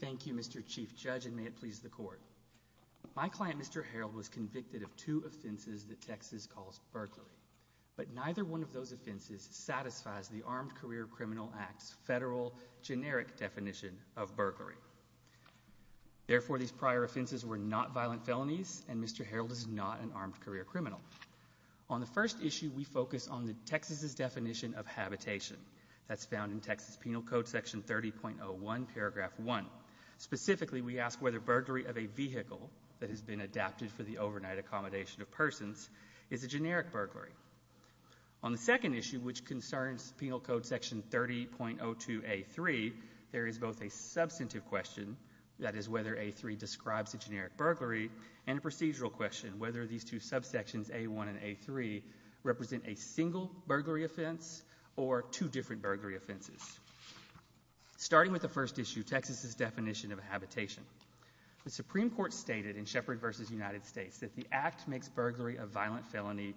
Thank you, Mr. Chief Judge, and may it please the Court. My client, Mr. Herrold, was convicted of two offenses that Texas calls burglary, but neither one of those offenses satisfies the Armed Career Criminal Act's federal generic definition of burglary. Therefore, these prior offenses were not violent felonies, and Mr. Herrold is not an armed career criminal. On the first issue, we focus on Texas's definition of habitation. That's found in Texas Penal Code Section 30.01, paragraph 1. Specifically, we ask whether burglary of a vehicle that has been adapted for the overnight accommodation of persons is a generic burglary. On the second issue, which concerns Penal Code Section 30.02A3, there is both a substantive question, that is whether A3 describes a generic burglary, and a procedural question, whether these two subsections, A1 and A3, represent a single burglary offense or two different burglary offenses. Starting with the first issue, Texas's definition of habitation. The Supreme Court stated in Shepard v. United States that the Act makes burglary a violent felony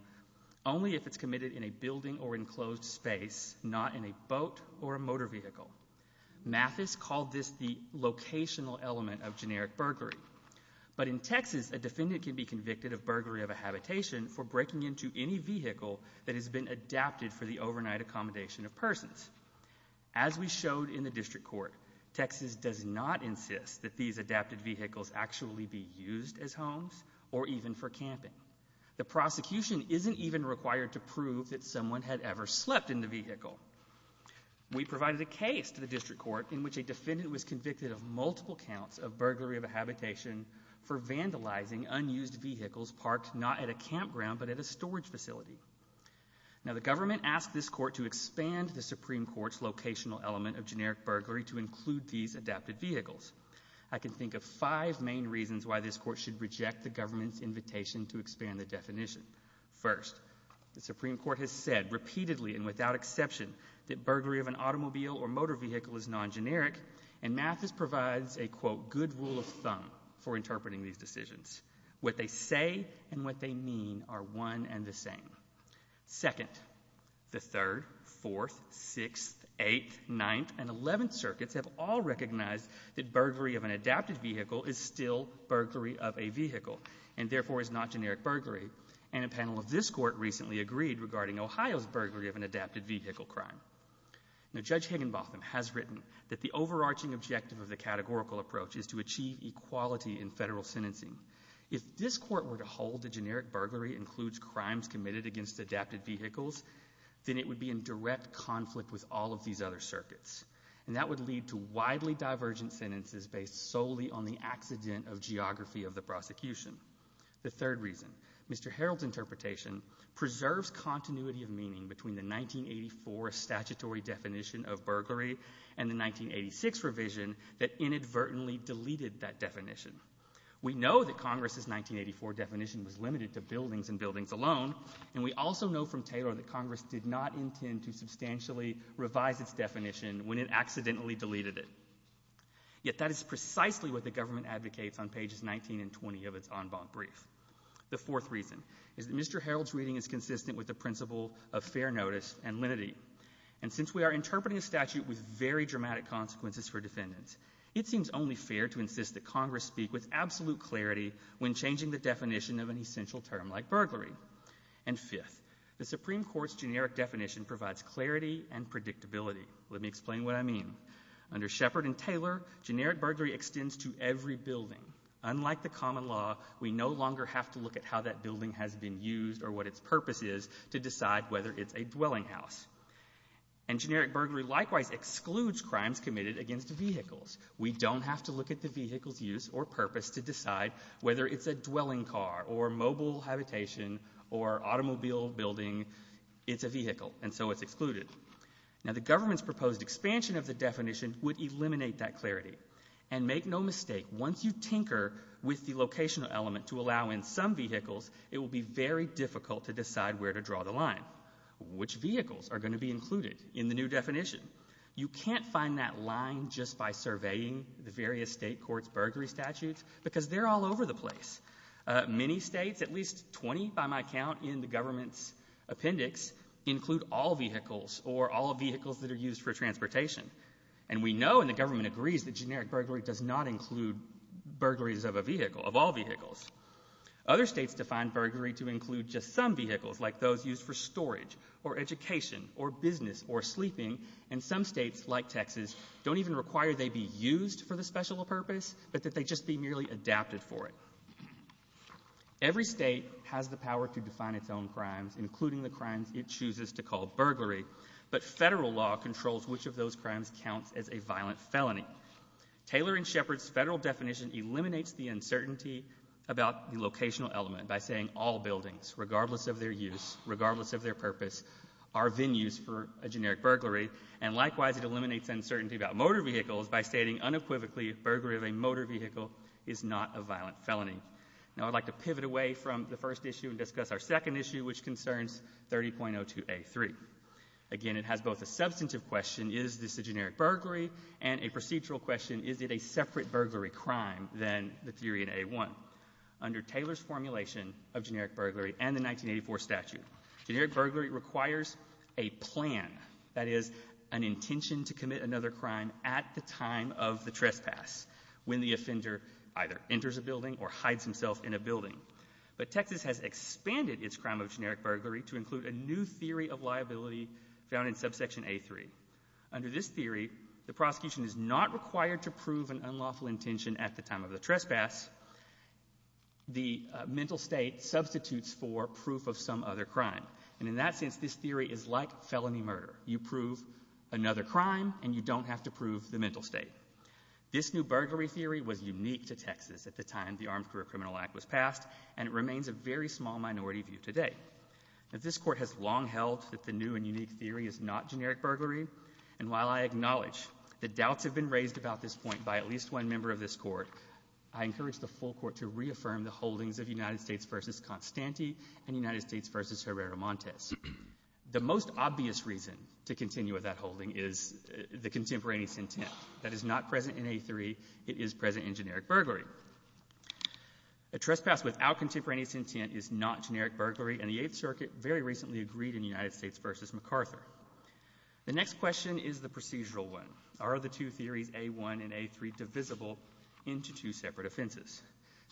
only if it's committed in a building or enclosed space, not in a boat or a motor vehicle. Mathis called this the locational element of generic burglary. But in Texas, a defendant can be convicted of burglary of a habitation for breaking into any vehicle that has been adapted for the overnight accommodation of persons. As we showed in the district court, Texas does not insist that these adapted vehicles actually be used as homes or even for camping. The prosecution isn't even required to prove that someone had ever slept in the vehicle. We provided a case to the district court in which a defendant was convicted of multiple counts of burglary of a habitation for vandalizing unused vehicles parked not at a campground but at a storage facility. Now, the government asked this court to expand the Supreme Court's locational element of generic burglary to include these adapted vehicles. I can think of five main reasons why this court should reject the government's invitation to expand the definition. First, the Supreme Court has said repeatedly and without exception that there is a good rule of thumb for interpreting these decisions. What they say and what they mean are one and the same. Second, the Third, Fourth, Sixth, Eighth, Ninth, and Eleventh circuits have all recognized that burglary of an adapted vehicle is still burglary of a vehicle and therefore is not generic burglary. And a panel of this court recently agreed regarding Ohio's burglary of an adapted vehicle crime. Now, Judge Higginbotham has written that the overarching objective of the categorical approach is to achieve equality in federal sentencing. If this court were to hold that generic burglary includes crimes committed against adapted vehicles, then it would be in direct conflict with all of these other circuits. And that would lead to widely divergent sentences based solely on the accident of geography of the prosecution. The third reason, Mr. Harreld's interpretation preserves continuity of meaning between the 1984 statutory definition of burglary and the 1986 revision that inadvertently deleted that definition. We know that Congress's 1984 definition was limited to buildings and buildings alone, and we also know from Taylor that Congress did not intend to substantially revise its definition when it accidentally deleted it. Yet that is precisely what the government advocates on pages 19 and 20 of its en banc brief. The fourth reason is that Mr. Harreld's reading is consistent with the principle of fair notice and lenity. And since we are interpreting a statute with very dramatic consequences for defendants, it seems only fair to insist that Congress speak with absolute clarity when changing the definition of an essential term like burglary. And fifth, the Supreme Court's generic definition provides clarity and predictability. Let me explain what I mean. Under Shepard and Taylor, generic burglary extends to every building. Unlike the common law, we no longer have to look at how that building has been used or what its purpose is to decide whether it's a dwelling house. And generic burglary likewise excludes crimes committed against vehicles. We don't have to look at the vehicle's use or purpose to decide whether it's a dwelling car or mobile habitation or automobile building. It's a vehicle, and so it's excluded. Now, the government's proposed expansion of the definition would eliminate that clarity. And make no mistake, once you tinker with the locational element to allow in some vehicles, it will be very difficult to decide where to draw the line. Which vehicles are going to be included in the new definition? You can't find that line just by surveying the various state courts' burglary statutes, because they're all over the place. Many states, at least 20 by my count in the government's appendix, include all vehicles or all vehicles that are used for transportation. And we know, and the government agrees, that generic burglary does not include burglaries of a vehicle, of all vehicles. Other states define burglary to include just some vehicles, like those used for storage or education or business or sleeping. And some states, like Texas, don't even require they be used for the special purpose, but that they just be merely adapted for it. Every state has the power to define its own crimes, including the crimes it chooses to call burglary. But federal law controls which of those crimes counts as a violent felony. Taylor and Shepard's federal definition eliminates the uncertainty about the locational element by saying all buildings, regardless of their use, regardless of their purpose, are venues for a generic burglary. And likewise, it eliminates uncertainty about motor vehicles by stating unequivocally, burglary of a motor vehicle is not a violent felony. Now I'd like to pivot away from the first issue and discuss our second issue, which concerns 30.02A3. Again, it has both a substantive question, is this a generic burglary, and a procedural question, is it a separate burglary crime than the theory in A1. Under Taylor's formulation of generic burglary and the 1984 statute, generic burglary requires a plan, that is, an intention to commit another crime at the time of the trespass, when the offender either enters a building or hides himself in a building. But Texas has expanded its crime of generic burglary to include a new theory of liability found in subsection A3. Under this theory, the prosecution is not required to prove an unlawful intention at the time of the trespass. The mental state substitutes for proof of some other crime. And in that sense, this theory is like felony murder. You prove another crime, and you don't have to prove the mental state. This new burglary theory was unique to Texas at the time the very small minority view today. This Court has long held that the new and unique theory is not generic burglary. And while I acknowledge that doubts have been raised about this point by at least one member of this Court, I encourage the full Court to reaffirm the holdings of United States v. Constante and United States v. Herrera-Montes. The most obvious reason to continue with that holding is the contemporaneous intent that is not present in A3, it is present in generic burglary. A trespass without contemporaneous intent is not generic burglary, and the Eighth Circuit very recently agreed in United States v. MacArthur. The next question is the procedural one. Are the two theories, A1 and A3, divisible into two separate offenses?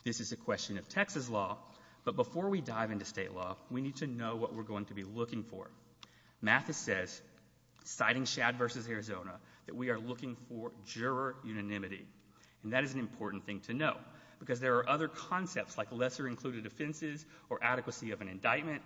This is a question of Texas law, but before we dive into state law, we need to know what we're going to be looking for. Mathis says, citing Shad v. Arizona, that we are looking for juror unanimity. And that is an important thing to know, because there are other concepts like lesser-included offenses or adequacy of an indictment,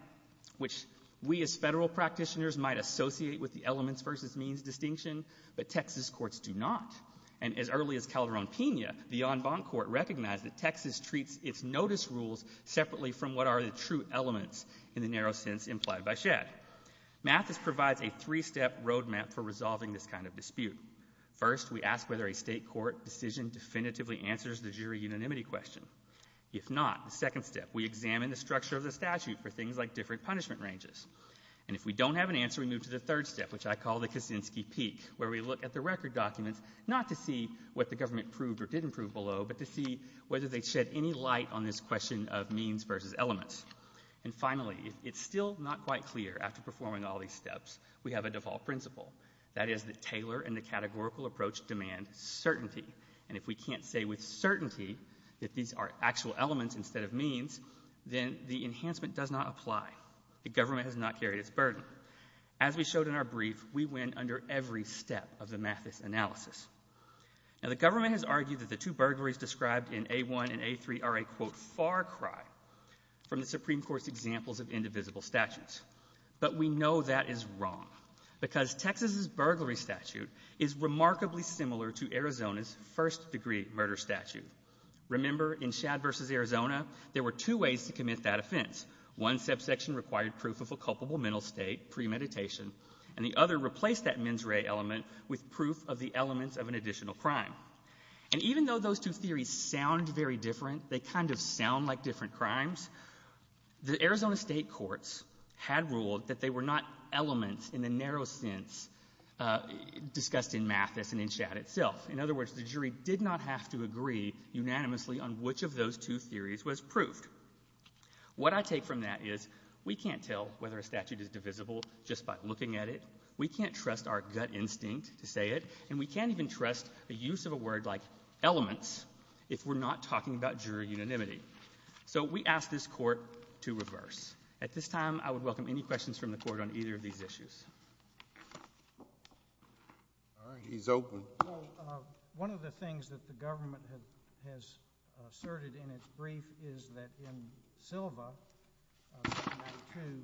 which we as federal practitioners might associate with the elements v. means distinction, but Texas courts do not. And as early as Calderon-Pena, the en banc court recognized that Texas treats its notice rules separately from what are the true elements in the narrow sense implied by Shad. Mathis provides a three-step roadmap for resolving this kind of dispute. First, we ask whether a state court decision definitively answers the jury unanimity question. If not, the second step, we examine the structure of the statute for things like different punishment ranges. And if we don't have an answer, we move to the third step, which I call the Kaczynski peak, where we look at the record documents, not to see what the government proved or didn't prove below, but to see whether they shed any light on this question of means v. elements. And finally, it's still not quite clear after performing all these steps, we have a default principle. That is that Taylor and the categorical approach demand certainty. And if we can't say with certainty that these are actual elements instead of means, then the enhancement does not apply. The government has not carried its burden. As we showed in our brief, we win under every step of the Mathis analysis. Now, the government has argued that the two burglaries described in A1 and A3 are a, quote, far cry from the Supreme Court's examples of indivisible statutes. But we know that is wrong because Texas's burglary statute is remarkably similar to Arizona's first-degree murder statute. Remember, in Shad v. Arizona, there were two ways to commit that offense. One subsection required proof of a culpable mental state premeditation, and the other replaced that mens rea element with proof of the elements of an additional crime. And even though those two theories sound very different, they kind of sound like different crimes, the Arizona state courts had ruled that they were not elements in the narrow sense discussed in Mathis and in Shad itself. In other words, the jury did not have to agree unanimously on which of those two theories was proved. What I take from that is we can't tell whether a statute is divisible just by looking at it. We can't trust our gut instinct to say it, and we can't even trust the use of a word like elements if we're not talking about jury unanimity. So we ask this Court to reverse. At this time, I would welcome any questions from the Court on either of these issues. All right. He's open. Well, one of the things that the government has asserted in its brief is that in Sylva v. 92,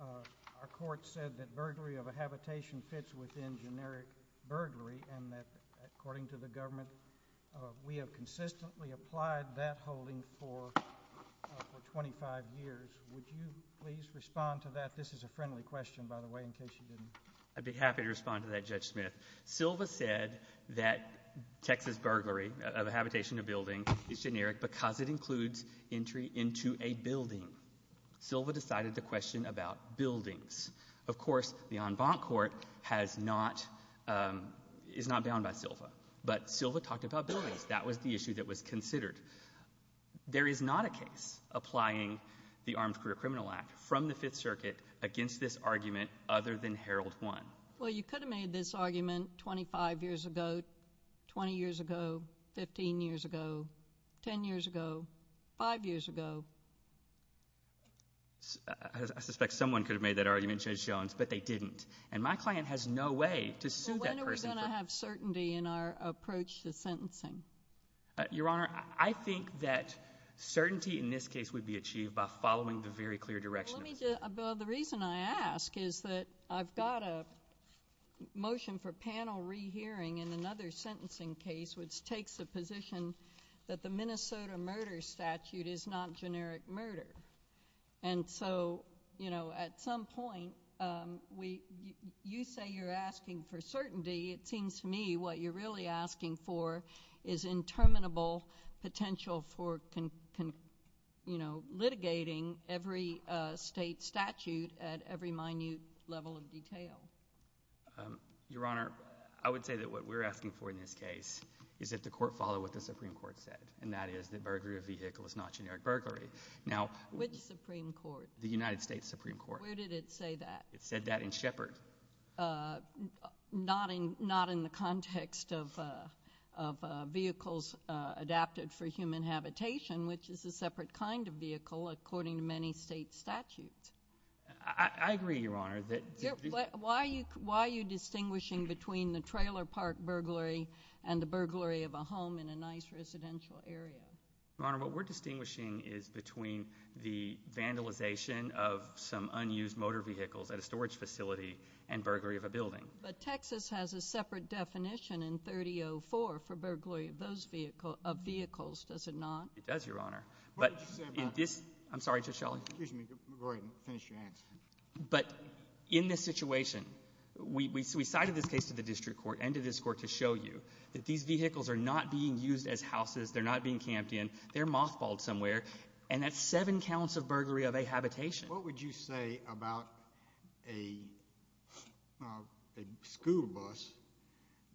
our Court said that burglary of habitation fits within generic burglary and that, according to the government, we have consistently applied that holding for 25 years. Would you please respond to that? This is a friendly question, by the way, in case you didn't. I'd be happy to respond to that, Judge Smith. Sylva said that Texas burglary of habitation of building is generic because it includes entry into a building. Sylva decided to question about buildings. Of course, the en banc Court is not bound by Sylva, but Sylva talked about buildings. That was the issue that was considered. There is not a case applying the Armed Career Criminal Act from the Fifth Circuit against this argument other than Herald 1. Well, you could have made this argument 25 years ago, 20 years ago, 15 years ago, 10 years ago, 5 years ago. I suspect someone could have made that argument, Judge Jones, but they didn't. And my client has no way to sue that person. When are we going to have certainty in our approach to sentencing? Your Honor, I think that certainty in this case would be achieved by following the very clear direction. Well, the reason I ask is that I've got a motion for panel rehearing in another sentencing case, which takes the position that the Minnesota murder statute is not generic murder. And so, you know, at some point, you say you're asking for certainty. It seems to me what you're really asking for is interminable potential for, you know, litigating every state statute at every minute level of detail. Your Honor, I would say that what we're asking for in this case is that the court follow what the Supreme Court said, and that is that burglary of vehicle is not generic burglary. Now, which Supreme Court? The United States Supreme Court. Where did it say that? It said that in Shepard. Not in the context of vehicles adapted for human habitation, which is a separate kind of vehicle, according to many state statutes. I agree, Your Honor. Why are you distinguishing between the trailer park burglary and the burglary of a home in a nice residential area? Your Honor, what we're distinguishing is between the vandalization of some unused motor vehicles at a storage facility and burglary of a building. But Texas has a separate definition in 3004 for burglary of those vehicle of vehicles, does it not? It does, Your Honor. But in this, I'm sorry, Judge Shelley. Excuse me, go ahead and finish your answer. But in this situation, we cited this case to the district court and to this court to show you that these vehicles are not being used as houses. They're not being camped in. They're mothballed somewhere. And that's seven counts of burglary of a habitation. What would you say about a school bus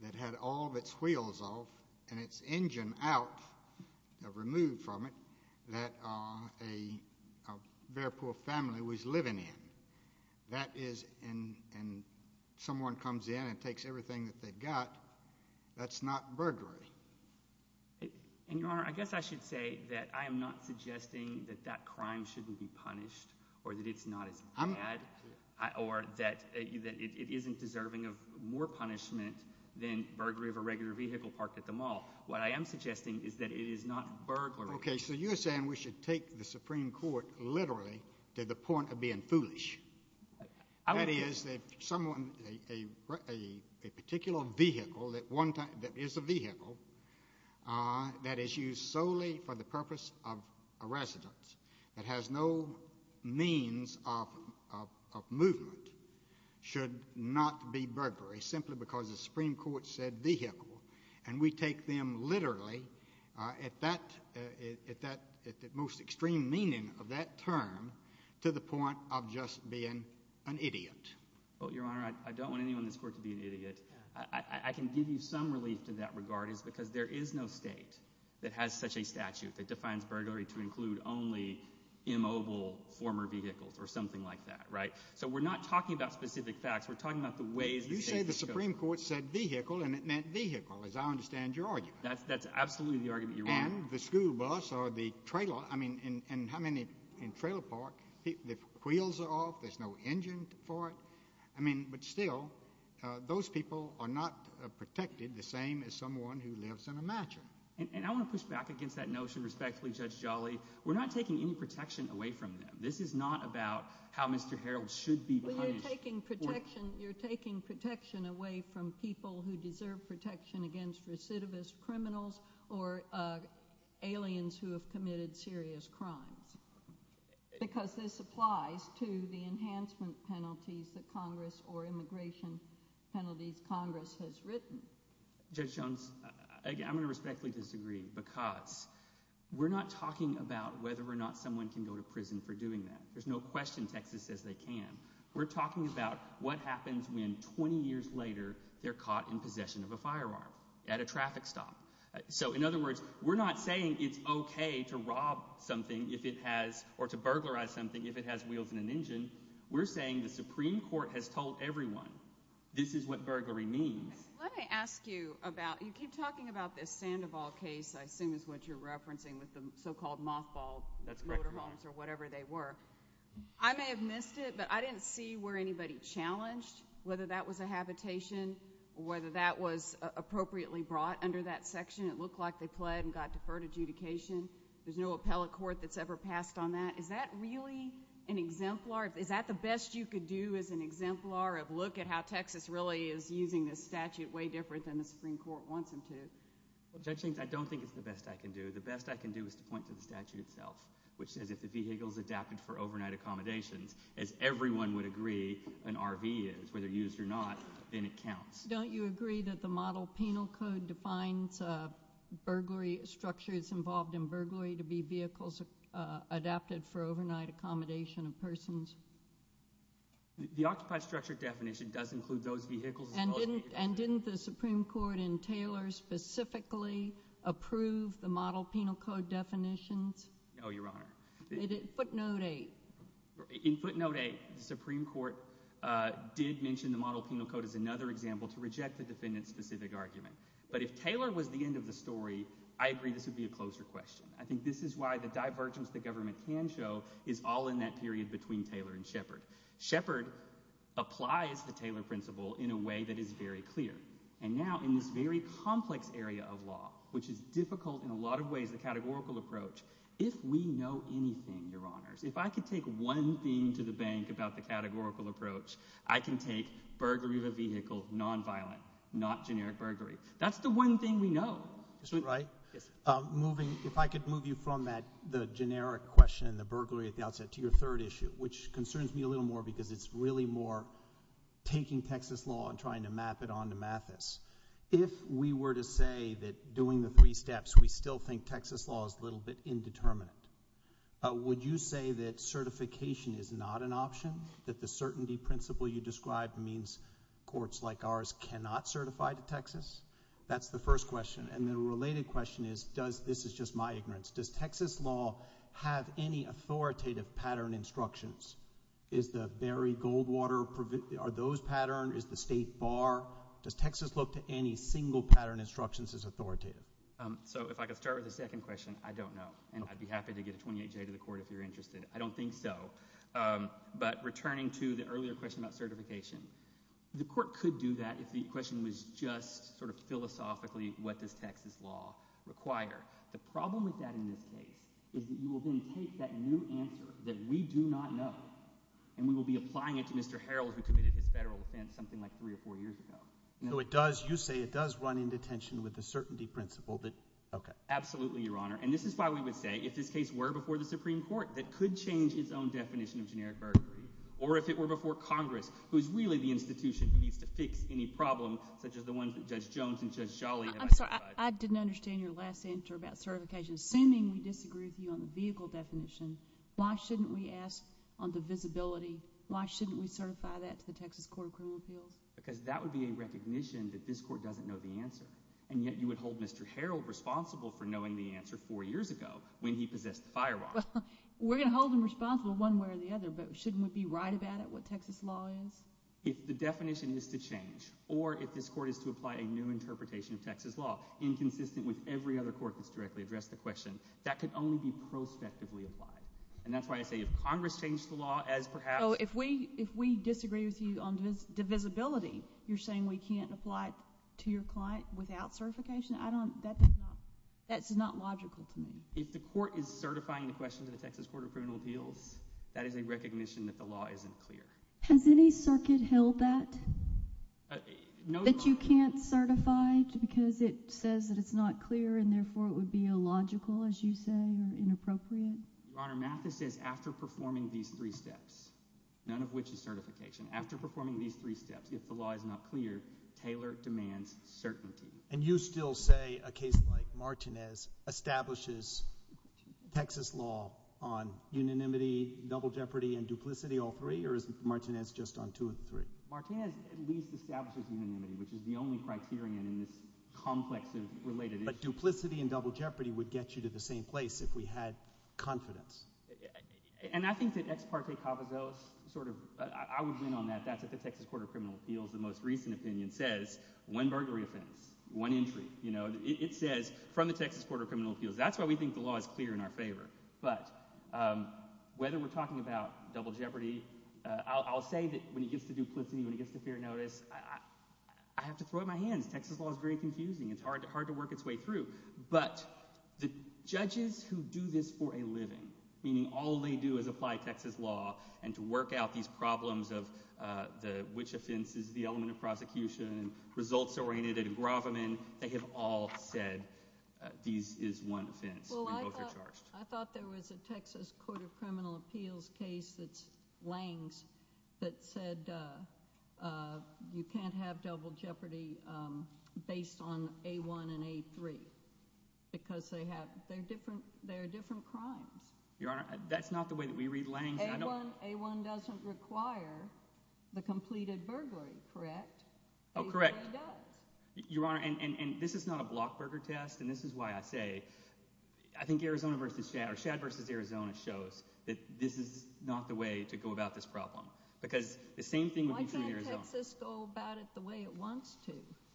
that had all of its wheels off and its engine out, removed from it, that a bear paw family was living in? That is, and someone comes in and takes everything that they've got, that's not burglary. And Your Honor, I guess I should say that I am not suggesting that that crime shouldn't be punished or that it's not as bad or that it isn't deserving of more punishment than burglary of a regular vehicle parked at the mall. What I am suggesting is that it is not burglary. Okay, so you're saying we should take the Supreme Court literally to the point of being foolish. That is, that someone, a particular vehicle that is a vehicle that is used solely for the purpose of a residence that has no means of movement should not be burglary, simply because the Supreme Court said vehicle. And we take them literally at that most extreme meaning of that term to the point of just being an idiot. Well, Your Honor, I don't want anyone in this court to be an idiot. I can give you some relief to that regard is because there is no state that has such a statute that defines burglary to include only immobile former vehicles or something like that, right? So we're not talking about specific facts. We're talking about the ways. You say the Supreme Court said vehicle and it meant vehicle, as I understand your argument. That's absolutely the argument. And the school bus or the trailer, I mean, and how many in trailer park, the wheels are off. There's no engine for it. I mean, but still, those people are not protected the same as someone who lives in a mansion. And I want to push back against that notion respectfully, Judge Jolly. We're not taking any protection away from them. This is not about how Mr. Harold should be taking protection. You're taking protection away from people who deserve protection against recidivist criminals or aliens who have committed serious crimes because this applies to the enhancement penalties that Congress or immigration penalties Congress has written. Judge Jones, again, I'm going to respectfully disagree because we're not talking about whether or not someone can go to prison for doing that. There's no question. Texas says they can. We're talking about what happens when 20 years later they're caught in possession of a firearm at a traffic stop. So, in other words, we're not saying it's okay to rob something if it has or to burglarize something if it has wheels in an engine. We're saying the Supreme Court has told everyone this is what burglary means. Let me ask you about, you keep talking about this Sandoval case, I assume is what you're referencing with the so-called mothballed or whatever they were. I may have missed it, but I didn't see where anybody challenged whether that was a habitation or whether that was appropriately brought under that section. It looked like they pled and got deferred adjudication. There's no appellate court that's ever passed on that. Is that really an exemplar? Is that the best you could do as an exemplar of look at how Texas really is using this statute way different than the Supreme Court wants them to? Well, Judge Hinges, I don't think it's the best I can do. The best I can do is to point to the statute itself which says if the vehicle is adapted for overnight accommodations, as everyone would agree an RV is, whether used or not, then it counts. Don't you agree that the Model Penal Code defines burglary structures involved in burglary to be vehicles adapted for overnight accommodation of persons? The Occupy Structure definition does include those vehicles as well. And didn't the Supreme Court in Taylor specifically approve the Model Penal Code definitions? No, Your Honor. In footnote 8. In footnote 8, the Supreme Court did mention the Model Penal Code as another example to reject the defendant's specific argument. But if Taylor was the end of the story, I agree this would be a closer question. I think this is why the divergence the government can show is all in that period between Taylor and Shepard. Shepard applies the Taylor principle in a way that is very clear. And now in this very complex area of law, which is if we know anything, Your Honors, if I could take one thing to the bank about the categorical approach, I can take burglary of a vehicle, nonviolent, not generic burglary. That's the one thing we know. Mr. Wright? Yes, sir. Moving, if I could move you from that, the generic question and the burglary at the outset to your third issue, which concerns me a little more because it's really more taking Texas law and trying to map it on to Mathis. If we were to say that we still think Texas law is a little bit indeterminate, would you say that certification is not an option? That the certainty principle you described means courts like ours cannot certify to Texas? That's the first question. And the related question is, does, this is just my ignorance, does Texas law have any authoritative pattern instructions? Is the Barry Goldwater, are those is the state bar? Does Texas look to any single pattern instructions as authoritative? So if I could start with the second question, I don't know. And I'd be happy to get a 28-J to the court if you're interested. I don't think so. But returning to the earlier question about certification, the court could do that if the question was just sort of philosophically what does Texas law require. The problem with that in this case is that you will then take that new answer that we do not know and we will be applying it to Mr. Harrell who committed his federal offense something like three or four years ago. So it does, you say it does run into tension with the certainty principle that, okay. Absolutely, Your Honor. And this is why we would say if this case were before the Supreme Court, that could change its own definition of generic burglary. Or if it were before Congress, who is really the institution who needs to fix any problem such as the one that Judge Jones and Judge Sholley have identified. I'm sorry, I didn't understand your last answer about certification. Assuming we disagree with you on the vehicle definition, why shouldn't we ask on the visibility, why shouldn't we certify that to the Texas Court of Criminal Appeals? Because that would be a recognition that this court doesn't know the answer. And yet you would hold Mr. Harrell responsible for knowing the answer four years ago when he possessed the firewall. Well, we're going to hold him responsible one way or the other, but shouldn't we be right about it, what Texas law is? If the definition is to change or if this court is to apply a new interpretation of Texas law inconsistent with every other court that's directly addressed the law as perhaps. Oh, if we disagree with you on divisibility, you're saying we can't apply it to your client without certification? I don't, that's not logical to me. If the court is certifying the question to the Texas Court of Criminal Appeals, that is a recognition that the law isn't clear. Has any circuit held that? That you can't certify because it says that it's not clear and therefore it would be illogical, as you say, or inappropriate? Your Honor, Martha says after performing these three steps, none of which is certification, after performing these three steps, if the law is not clear, Taylor demands certainty. And you still say a case like Martinez establishes Texas law on unanimity, double jeopardy, and duplicity, all three, or is Martinez just on two of the three? Martinez at least establishes unanimity, which is the only criterion in this complex of related issues. But duplicity and double jeopardy would get you to the same place if we had confidence. And I think that Ex Parte Cavazos sort of, I would win on that, that's what the Texas Court of Criminal Appeals, the most recent opinion says, one burglary offense, one entry, you know, it says from the Texas Court of Criminal Appeals, that's why we think the law is clear in our favor. But whether we're talking about double jeopardy, I'll say that when it gets to duplicity, when it gets to fair notice, I have to throw up my hands. Texas law is very confusing, it's hard to work its way through. But the judges who do this for a living, meaning all they do is apply Texas law, and to work out these problems of which offense is the element of prosecution, results-oriented engrossment, they have all said this is one offense, and both are charged. I thought there was a Texas Court of Criminal Appeals case that's Lange's that said that you can't have double jeopardy based on A1 and A3, because they have, they're different, they're different crimes. Your Honor, that's not the way that we read Lange. A1 doesn't require the completed burglary, correct? Oh, correct. Your Honor, and this is not a blockburger test, and this is why I say, I think Arizona versus Shad, or Shad versus Arizona shows that this is the way to go about this problem, because the same thing would be true in Arizona. Why can't Texas go about it the way it wants to?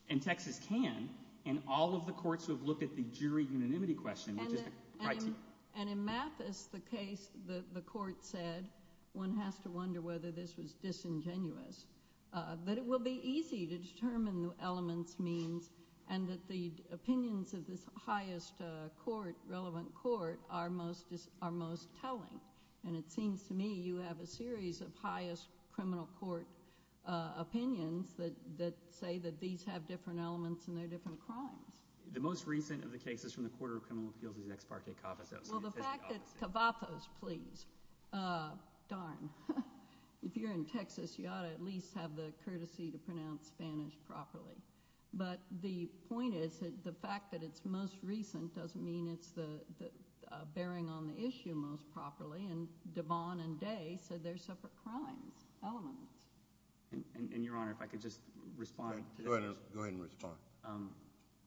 And Texas can, and all of the courts have looked at the jury unanimity question, which is the criteria. And in Mathis, the case, the court said, one has to wonder whether this was disingenuous. But it will be easy to determine the element's means, and that the opinions of this highest court, relevant court, are most telling. And it is a series of highest criminal court opinions that say that these have different elements, and they're different crimes. The most recent of the cases from the Court of Criminal Appeals is X Parque Cavas, that was the statistic opposite. Well the fact that, Cavathos, please, darn, if you're in Texas, you ought to at least have the courtesy to pronounce Spanish properly. But the point is, the fact that it's most recent doesn't mean it's bearing on the issue most properly, and Devon and Day said they're separate crimes, elements. And your Honor, if I could just respond to that. Go ahead, Mr. Tarr.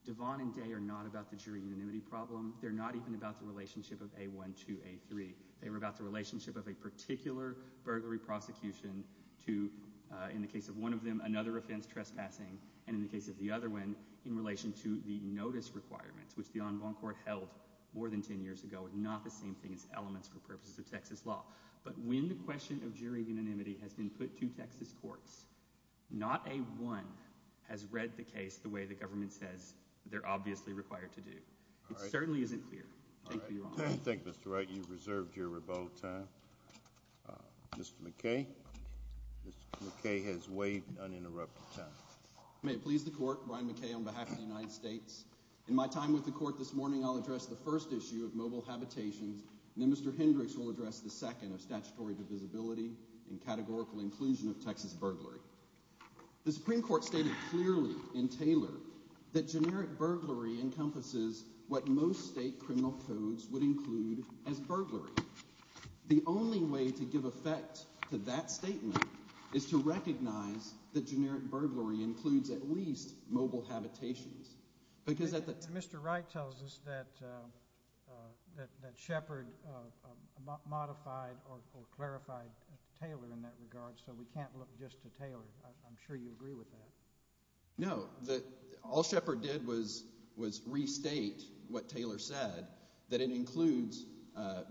Devon and Day are not about the jury unanimity problem. They're not even about the relationship of A1 to A3. They were about the relationship of a particular burglary prosecution to, in the case of one of them, another offense, trespassing, and in the case of the other one, in relation to the notice requirements, which the Envron Court held more than 10 years ago, and not the same thing as elements for purposes of Texas law. But when the question of jury unanimity has been put to Texas courts, not A1 has read the case the way the government says they're obviously required to do. It certainly isn't clear. Thank you, Your Honor. Thank you, Mr. Wright. You've reserved your rebuttal time. Mr. McKay. Mr. McKay has waived uninterrupted time. May it please the Court, on behalf of the United States, in my time with the Court this morning, I'll address the first issue of mobile habitations, and then Mr. Hendricks will address the second of statutory divisibility and categorical inclusion of Texas burglary. The Supreme Court stated clearly in Taylor that generic burglary encompasses what most state criminal codes would include as burglary. The only way to give effect to that statement is to recognize that generic burglary includes at least mobile habitations. Mr. Wright tells us that Shepard modified or clarified Taylor in that regard, so we can't look just to Taylor. I'm sure you agree with that. No. All Shepard did was restate what Taylor said, that it includes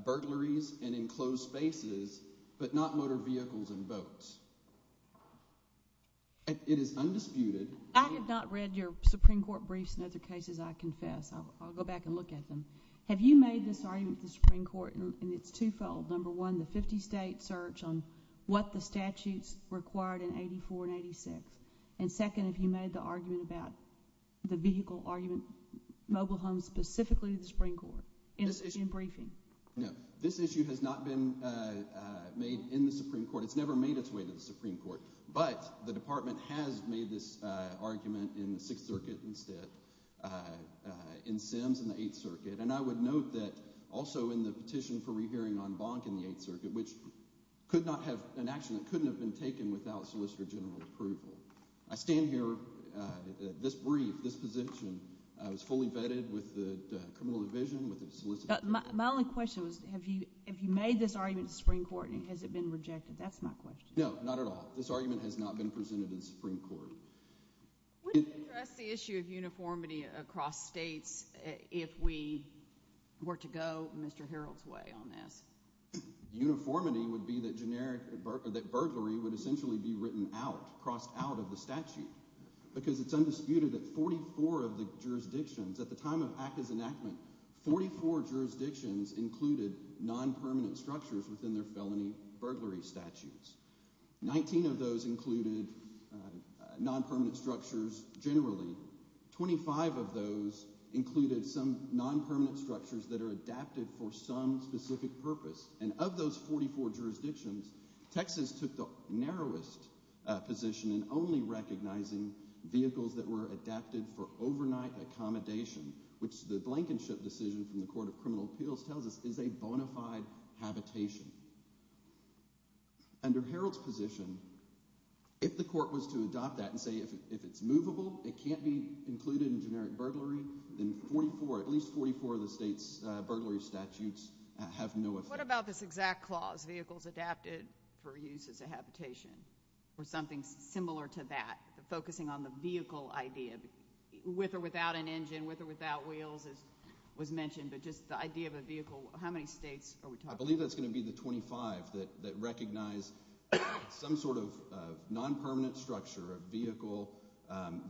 burglaries and enclosed spaces, but not motor vehicles and boats. It is undisputed. I have not read your Supreme Court briefs in other cases, I confess. I'll go back and look at them. Have you made this argument with the Supreme Court, and it's twofold. Number one, the 50-state search on what the statutes required in 84 and 86. And second, have you made the argument about the vehicle argument, mobile homes, specifically the Supreme Court, in briefing? No. This issue has not been made in the Supreme Court. It's never made its way to the Supreme Court. But the Department has made this argument in the Sixth Circuit instead, in Sims, in the Eighth Circuit. And I would note that also in the petition for rehearing on Bonk in the Eighth Circuit, which could not have, an action that couldn't have been taken without Solicitor General approval. I stand here, this brief, this position, was fully vetted with the Criminal Division, with the Solicitor General. My only question was, have you, have you made this argument in the Supreme Court, and has it been rejected? That's my question. No, not at all. This argument has not been presented in the Supreme Court. Would you address the issue of uniformity across states if we were to go Mr. Herold's way on this? Uniformity would be that generic, that burglary would essentially be written out, crossed out of the statute, because it's at the time of ACCA's enactment, 44 jurisdictions included non-permanent structures within their felony burglary statutes. Nineteen of those included non-permanent structures generally. Twenty-five of those included some non-permanent structures that are adapted for some specific purpose. And of those 44 jurisdictions, Texas took the narrowest position in only recognizing vehicles that were adapted for overnight accommodation, which the Blankenship decision from the Court of Criminal Appeals tells us is a bona fide habitation. Under Herold's position, if the court was to adopt that and say if it's movable, it can't be included in generic burglary, then 44, at least 44 of the state's burglary statutes have no effect. What about this exact clause, vehicles adapted for use as a habitation, or something similar to that, focusing on the vehicle idea, with or without an engine, with or without wheels, as was mentioned, but just the idea of a vehicle, how many states are we talking about? I believe that's going to be the 25 that recognize some sort of non-permanent structure, a vehicle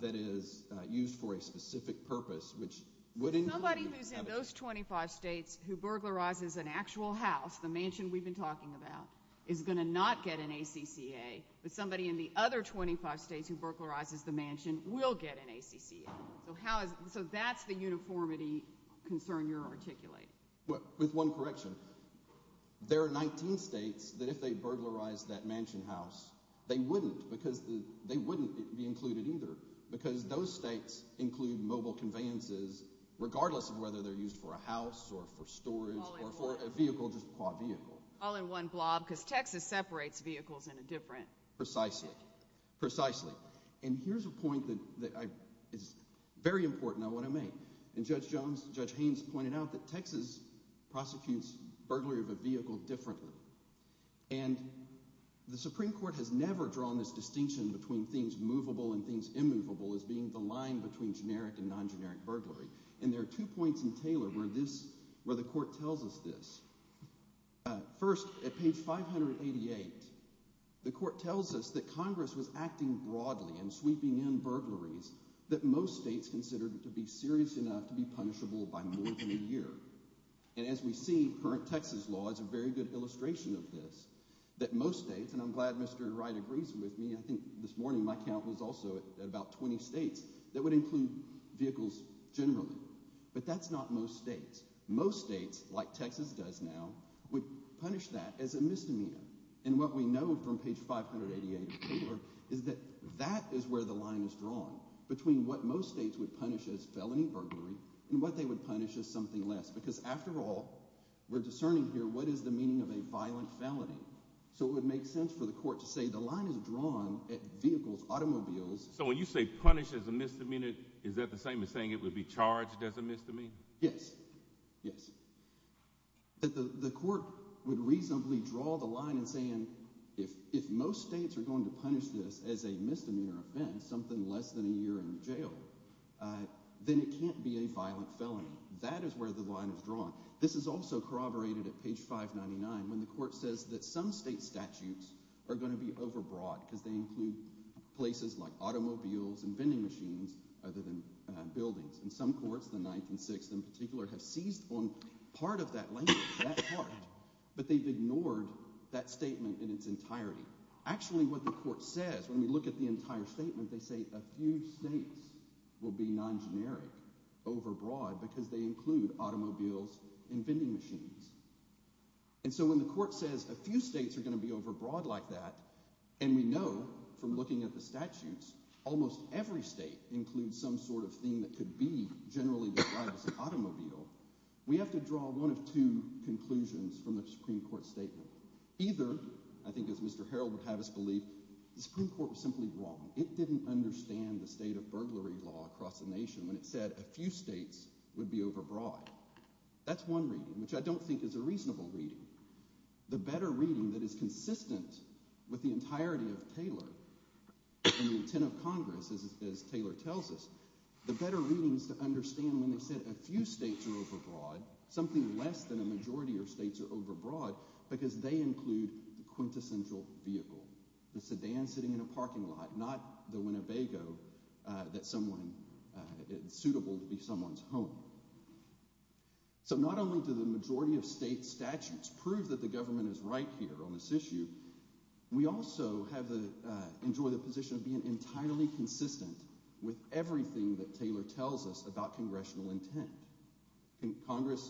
that is used for a specific purpose, which would include... Somebody who's in those 25 states who burglarizes an actual house, the mansion we've been talking about, is going to not get an ACCA, but somebody in the other 25 states who burglarizes the mansion will get an ACCA. So that's the uniformity concern you're articulating. With one correction, there are 19 states that if they burglarized that mansion house, they wouldn't, because they wouldn't be included either, because those states include mobile conveyances, regardless of whether they're used for a house, or for storage, or for a vehicle, just for a vehicle. All in one blob, because Texas separates vehicles in a different... Precisely. Precisely. And here's a point that is very important, I want to make. And Judge Haynes pointed out that Texas prosecutes burglary of a vehicle differently. And the Supreme Court has never drawn this distinction between things movable and things immovable as being the line between generic and non-generic burglary. And there are two points in Taylor where the court tells us this. First, at page 588, the court tells us that Congress was acting broadly and sweeping in burglaries that most states considered to be serious enough to be punishable by more than a year. And as we see, current Texas law is a very good illustration of this, that most states, and I'm glad Mr. Wright agrees with me, I think this morning my count was also at about 20 states, that would include vehicles generally. But that's not most states. Most states, like Texas does now, would punish that as a misdemeanor. And what we know from page 588 of Taylor is that that is where the line is drawn between what most states would punish as felony burglary and what they would punish as something less. Because after all, we're discerning here what is the meaning of a violent felony. So it would make sense for the court to say the line is drawn at vehicles, automobiles... So when you say punish as a misdemeanor, is that the same as saying it would be charged as a misdemeanor? Yes. Yes. The court would reasonably draw the line and saying if most states are going to punish this as a misdemeanor offense, something less than a year in jail, then it can't be a violent felony. That is where the line is drawn. This is also corroborated at page 599 when the court says that some state statutes are going to be overbroad because they include places like automobiles and vending machines other than buildings. And some courts, the 9th and 6th in particular, have seized on part of that language, that part, but they've ignored that statement in its entirety. Actually what the court says when we look at the entire statement, they say a few states will be non-generic, overbroad, because they include automobiles and vending machines. And so when the court says a few states are going to be overbroad like that, and we know from looking at the statutes, almost every state includes some sort of thing that could be generally described as an automobile, we have to draw one of two conclusions from the Supreme Court statement. Either, I think as Mr. Harrell would have us believe, the Supreme Court was simply wrong. It didn't understand the state of burglary law across the nation when it said a few states would be overbroad. That's one reading, which I don't think is a reasonable reading. The better reading that is consistent with the entirety of Taylor and the intent of Congress, as Taylor tells us, the better readings to understand when they said a few states are overbroad, something less than a majority of states are overbroad, because they include the quintessential vehicle, the sedan sitting in a parking lot, not the Winnebago that someone, suitable to be someone's home. So not only do the majority of state statutes prove that the government is right here on this issue, we also enjoy the position of being entirely consistent with everything that Taylor tells us about congressional intent. Congress,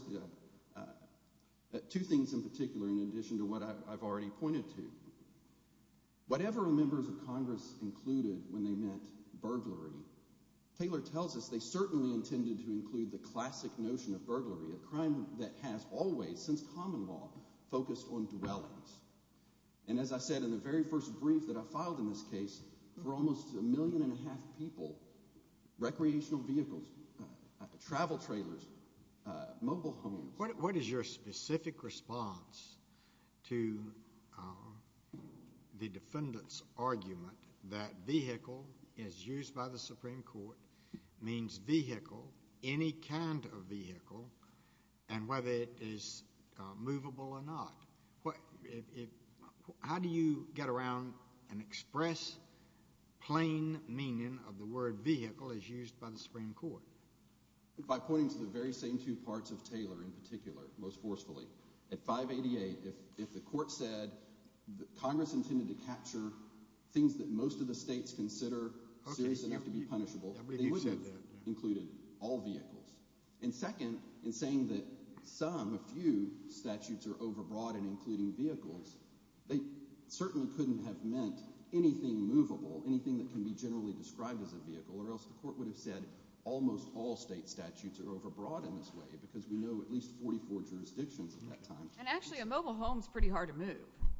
two things in particular in addition to what I've already pointed to. Whatever members of Congress included when they meant burglary, Taylor tells us they certainly intended to include the classic notion of burglary, a crime that has always, since common law, focused on dwellings. And as I said in the very first brief that I filed in this case, for almost a million and a half people, recreational vehicles, travel trailers, mobile homes. What is your specific response to the defendant's argument that vehicle as used by the Supreme Court means vehicle, any kind of vehicle, and whether it is movable or not? How do you get around and express plain meaning of the word vehicle as used by the Supreme Court? By pointing to the very same two parts of Taylor in particular, most forcefully. At 588, if the court said that Congress intended to capture things that most of the states consider serious enough to be punishable, they wouldn't have included all vehicles. And second, in saying that some, a few, statutes are overbroad in including vehicles, they certainly couldn't have meant anything movable, anything that can be generally described as a vehicle, or else the whole state statutes are overbroad in this way, because we know at least 44 jurisdictions at that time. And actually a mobile home is pretty hard to move.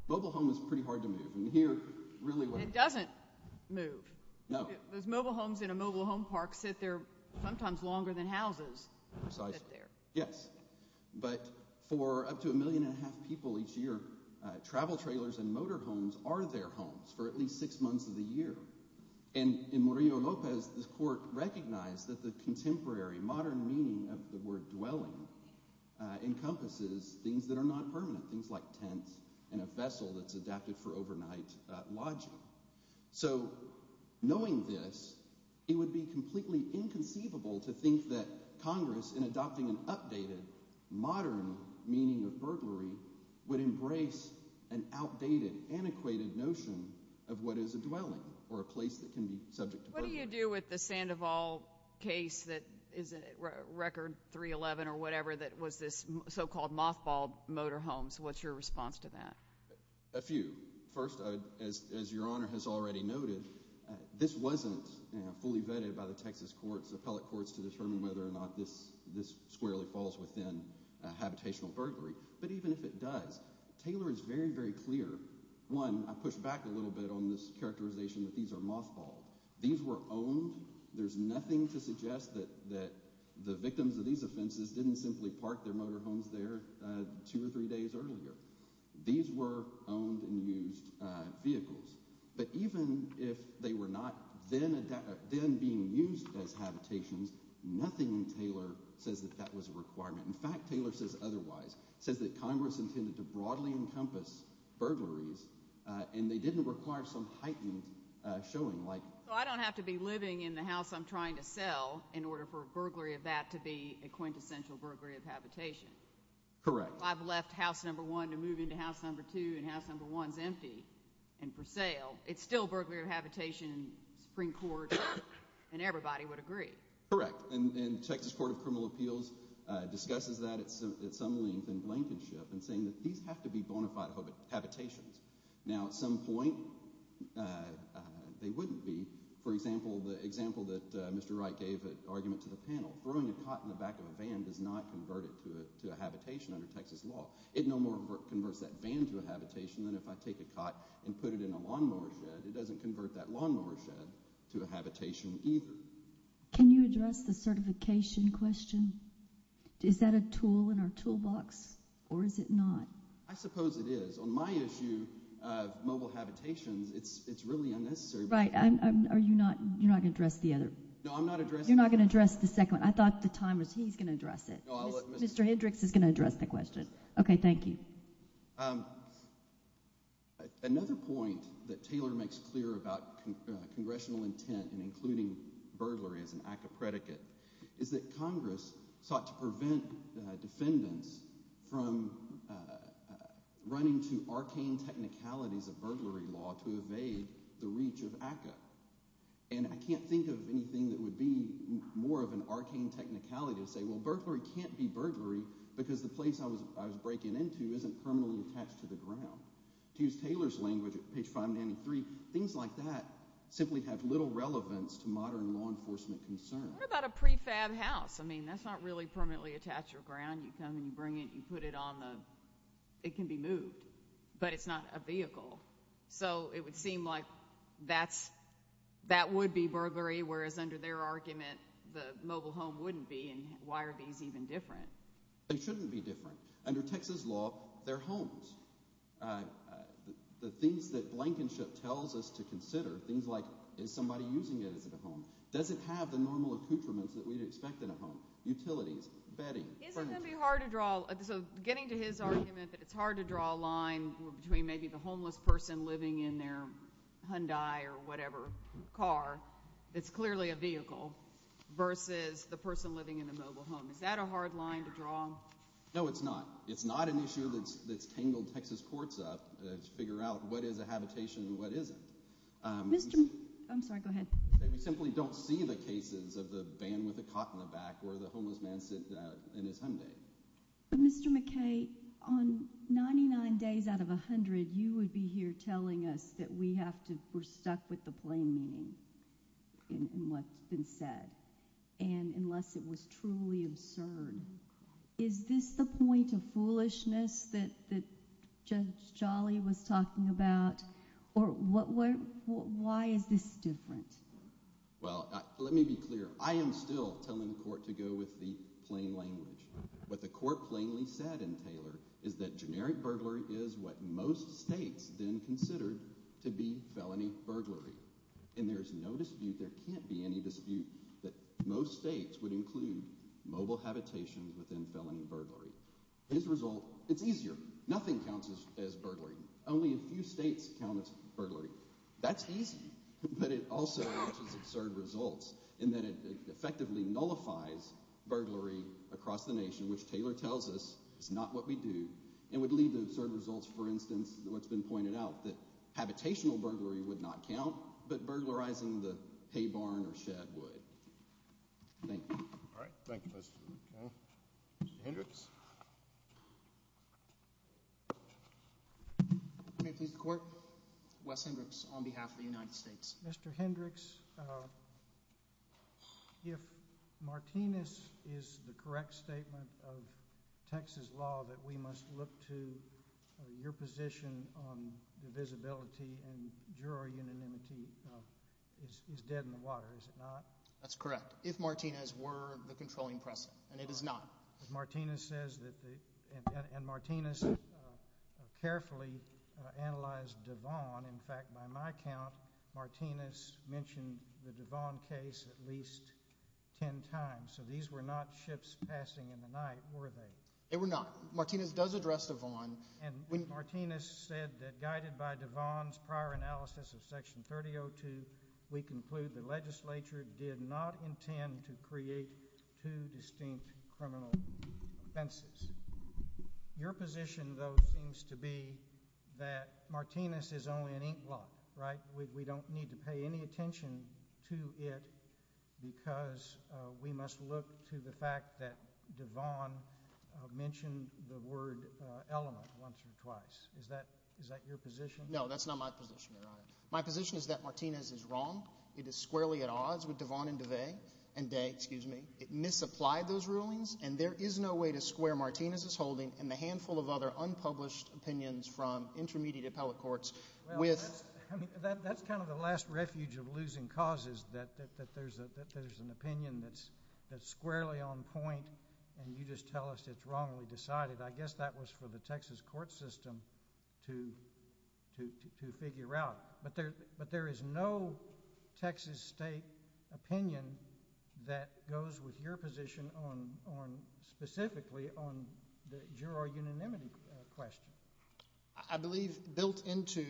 Mobile home is pretty hard to move, and here really what happens. It doesn't move. No. Those mobile homes in a mobile home park sit there sometimes longer than houses sit there. Yes, but for up to a million and a half people each year, travel trailers and motor homes are their homes for at least six months of the year. And in Murillo-Lopez, this court recognized that the contemporary modern meaning of the word dwelling encompasses things that are not permanent, things like tents and a vessel that's adapted for overnight lodging. So knowing this, it would be completely inconceivable to think that Congress, in adopting an updated modern meaning of burglary, would embrace an outdated, antiquated notion of what is a dwelling or a place that can be subject to burglary. What do you do with the Sandoval case that is a record 311 or whatever that was this so-called mothballed motor homes? What's your response to that? A few. First, as your honor has already noted, this wasn't fully vetted by the Texas courts, the appellate courts, to determine whether or not this squarely falls within habitational burglary. But even if it does, Taylor is very, very clear. One, I push back a little bit on this characterization that these are mothballed. These were owned. There's nothing to suggest that the victims of these offenses didn't simply park their motor homes there two or three days earlier. These were owned and used vehicles. But even if they were not then being used as habitations, nothing in Taylor says that that was a requirement. In fact, Taylor says otherwise. It says that Congress intended to broadly encompass burglaries and they didn't require some heightened showing. So I don't have to be living in the house I'm trying to sell in order for a burglary of that to be a quintessential burglary of habitation. Correct. I've left house number one to move into house number two and house number one's empty and for sale. It's still burglary of habitation, Supreme Court, and everybody would agree. Correct. And Texas Court of Criminal Appeals discusses that at some length in Blankenship and saying that these have to be bona fide habitations. Now at some point, they wouldn't be. For example, the example that Mr. Wright gave an argument to the panel, throwing a cot in the back of a van does not convert it to a habitation under Texas law. It no more converts that van to a habitation than if I take a cot and put it in a lawnmower shed. It doesn't convert that lawnmower shed to a habitation either. Can you address the certification question? Is that a tool in our toolbox or is it not? I suppose it is. On my issue of mobile habitations, it's really unnecessary. Right. Are you not going to address the other? No, I'm not addressing that. You're not going to address the second one. I thought the time was he's going to address it. Mr. Hendricks is going to address that question. Okay, thank you. Another point that Taylor makes clear about congressional intent and including burglary as an act of predicate is that Congress sought to prevent defendants from running to arcane technicalities of burglary law to evade the reach of ACCA. I can't think of anything that would be more of an arcane technicality to say, well, burglary can't be burglary because the place I was breaking into isn't permanently attached to the ground. To use Taylor's language at page 593, things like that simply have little relevance to modern law enforcement concern. What about a prefab house? I mean, that's not really permanently attached to the ground. You come and you bring it, you put it on the, it can be moved, but it's not a vehicle. So it would seem like that would be burglary, whereas under their argument, the mobile home wouldn't be, and why are these even different? They shouldn't be different. Under Texas law, they're homes. The things that blankenship tells us to consider, things like, is somebody using it as a home? Does it have the normal accoutrements that we'd expect in a home? Utilities, bedding. Isn't it hard to draw, so getting to his argument that it's hard to draw a line between maybe the homeless person living in their Hyundai or whatever car, it's clearly a vehicle, versus the person living in a mobile home. Is that a hard line to draw? No, it's not. It's not an issue that's tangled Texas courts up to figure out what is a habitation and what isn't. I'm sorry, go ahead. We simply don't see the cases of the van with the cot in the back where the homeless man sits in his Hyundai. But Mr. McKay, on 99 days out of 100, you would be here telling us that we have to, we're stuck with the plain meaning in what's been said, and unless it was truly absurd, is this the point of foolishness that Judge Jolly was talking about, or why is this different? Well, let me be clear. I am still telling the court to go with the plain language. What the court plainly said in Taylor is that generic burglary is what most states then considered to be felony burglary, and there's no dispute, there can't be any dispute, that most states would include mobile habitation within counts as burglary. Only a few states count it as burglary. That's easy, but it also matches absurd results in that it effectively nullifies burglary across the nation, which Taylor tells us is not what we do, and would lead to absurd results. For instance, what's been pointed out, that habitational burglary would not count, but burglarizing the hay barn or shed would. Thank you. All right, thank you. Mr. Hendricks. May it please the court, Wes Hendricks on behalf of the United States. Mr. Hendricks, if Martinez is the correct statement of Texas law that we must look to your position on the visibility and jury anonymity is dead in the water, is it not? That's correct. If Martinez were the controlling precedent, and it is not. Martinez says that, and Martinez carefully analyzed Devon. In fact, by my count, Martinez mentioned the Devon case at least 10 times, so these were not ships passing in the night, were they? They were not. Martinez does address Devon. And when Martinez said that guided by Devon's prior analysis of section 3002, we conclude the legislature did not intend to create two distinct criminal offenses. Your position, though, seems to be that Martinez is only an inkblot, right? We don't need to pay any attention to it, because we must look to the fact that Devon mentioned the word element once or twice. Is that your position? No, that's not my position, Your Honor. My position is that Martinez is wrong. It is squarely at odds with Devon and DeVay, and Day, excuse me. It misapplied those rulings, and there is no way to square Martinez's holding and the handful of other unpublished opinions from intermediate appellate courts with... Well, that's kind of the last refuge of losing causes, that there's an opinion that's squarely on point, and you just tell us it's wrong, and we decide it. I guess that was for the Texas court system to figure out. But there is no Texas state opinion that goes with your position on specifically on your unanimity question. I believe built into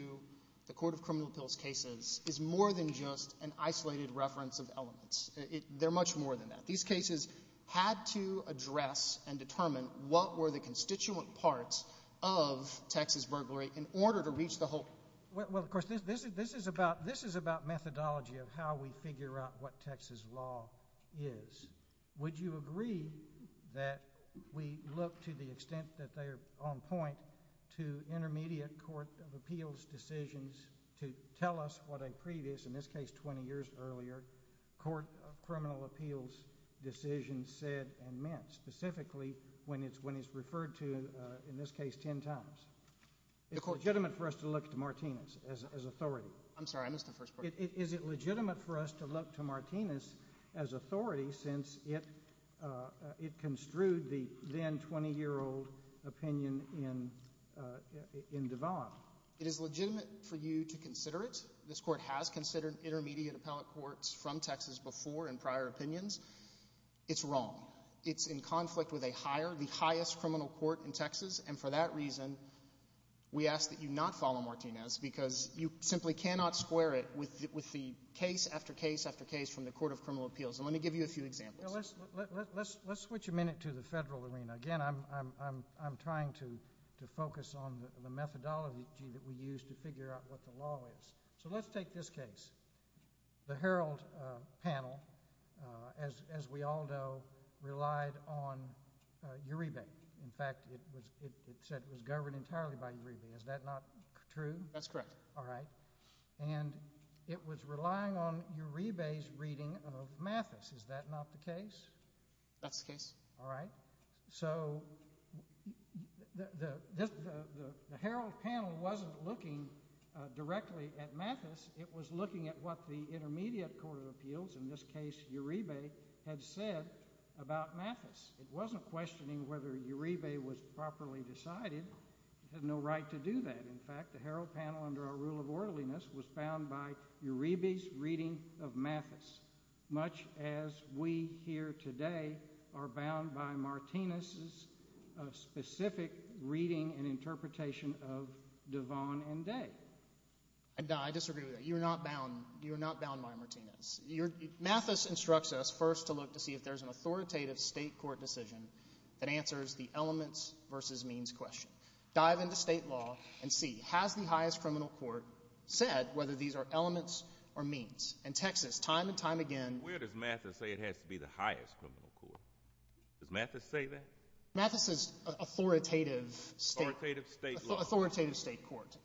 the court of criminal appeals cases is more than just an isolated reference of elements. They're much more than that. These cases had to address and determine what were the constituent parts of Texas burglary in order to reach the whole... Well, of course, this is about methodology of how we figure out what Texas law is. Would you agree that we look to the extent that they're on point to intermediate court of appeals decisions to tell us what a previous, in this case 20 years earlier, court of criminal appeals decision said and meant, specifically when it's referred to, in this case, 10 times? It's legitimate for us to look to Martinez as authority. I'm sorry, I missed the first part. Is it legitimate for us to look to Martinez as authority since it construed the then 20-year-old opinion in Devon? It is legitimate for you to consider it. This court has considered intermediate appellate courts from Texas before in prior opinions. It's wrong. It's in conflict with a higher, the highest criminal court in Texas, and for that reason, we ask that you not follow Martinez because you simply cannot square it with the case after case after case from the court of criminal appeals. And let me give you a few examples. Let's switch a minute to the federal arena. Again, I'm trying to focus on the methodology that we use to figure out what the law is. So let's take this case. The Herald panel, as we all know, relied on Uribe. In fact, it said it was governed entirely by Uribe. Is that not true? That's correct. All right. And it was relying on Uribe's reading of Mathis. Is that not the case? That's the case. All right. So the Herald panel wasn't looking directly at Mathis. It was looking at what the It wasn't questioning whether Uribe was properly decided. It had no right to do that. In fact, the Herald panel, under our rule of orderliness, was bound by Uribe's reading of Mathis, much as we here today are bound by Martinez's specific reading and interpretation of Devon and Day. I disagree with that. You're not bound. You're not bound by Martinez. Mathis instructs us first to look to see if there's an authoritative state court decision that answers the elements versus means question. Dive into state law and see, has the highest criminal court said whether these are elements or means? And Texas, time and time again— Where does Mathis say it has to be the highest criminal court? Does Mathis say that? Mathis is authoritative state— Authoritative state law. Authoritative state court.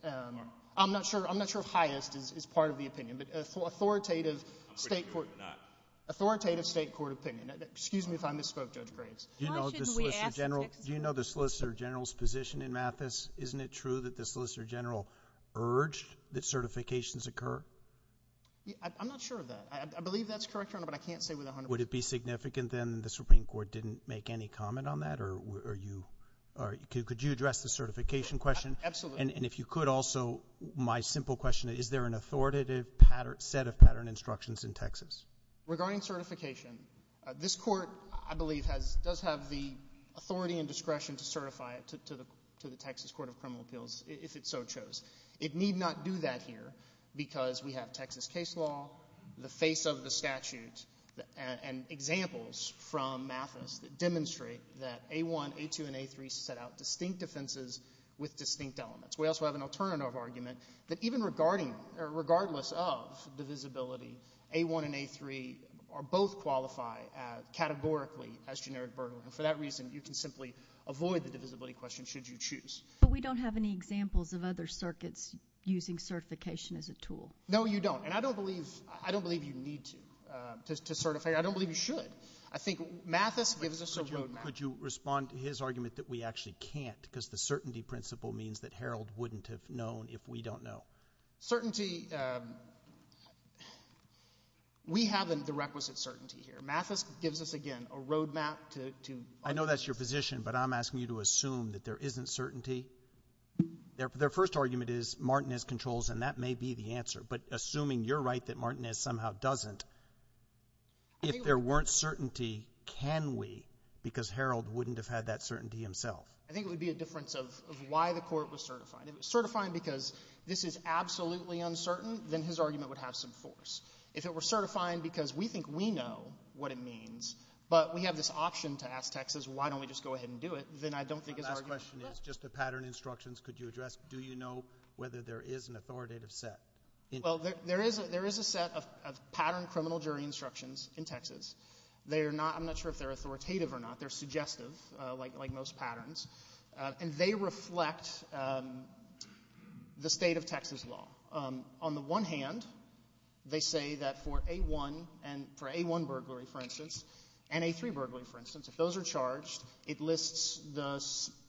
I'm not sure if highest is part of the opinion, but I'm pretty sure it's not. Authoritative state court opinion. Excuse me if I misspoke, Judge Graves. Why shouldn't we ask Texas? Do you know the Solicitor General's position in Mathis? Isn't it true that the Solicitor General urged that certifications occur? I'm not sure of that. I believe that's correct, Your Honor, but I can't say with 100 percent— Would it be significant, then, that the Supreme Court didn't make any comment on that? Or could you address the certification question? Absolutely. And if you could, also, my simple question, is there an authoritative set of pattern instructions in Texas? Regarding certification, this court, I believe, does have the authority and discretion to certify it to the Texas Court of Criminal Appeals, if it so chose. It need not do that here because we have Texas case law, the face of the statute, and examples from Mathis that demonstrate that A1, A2, and A3 set out distinct defenses with distinct elements. We also have an alternative argument that even regardless of divisibility, A1 and A3 both qualify categorically as generic burden. And for that reason, you can simply avoid the divisibility question, should you choose. But we don't have any examples of other circuits using certification as a tool. No, you don't. And I don't believe you need to certify. I don't believe you should. I think Mathis gives us a road map. Could you respond to his argument that we actually can't, because the certainty principle means that Harold wouldn't have known if we don't know. Certainty, we have the requisite certainty here. Mathis gives us, again, a road map to— I know that's your position, but I'm asking you to assume that there isn't certainty. Their first argument is Martinez controls, and that may be the answer. But assuming you're right that Martinez somehow doesn't, if there weren't certainty, can we? Because Harold wouldn't have had that certainty himself. I think it would be a difference of why the Court was certified. If it was certified because this is absolutely uncertain, then his argument would have some force. If it were certified because we think we know what it means, but we have this option to ask Texas, why don't we just go ahead and do it, then I don't think his argument— My last question is, just to pattern instructions, could you address, do you know whether there is an authoritative set? Well, there is a set of patterned criminal jury instructions in Texas. They're not—I'm not sure if they're authoritative or not. They're suggestive, like most patterns. And they reflect the state of Texas law. On the one hand, they say that for A1 burglary, for instance, and A3 burglary, for instance, if those are charged, it lists the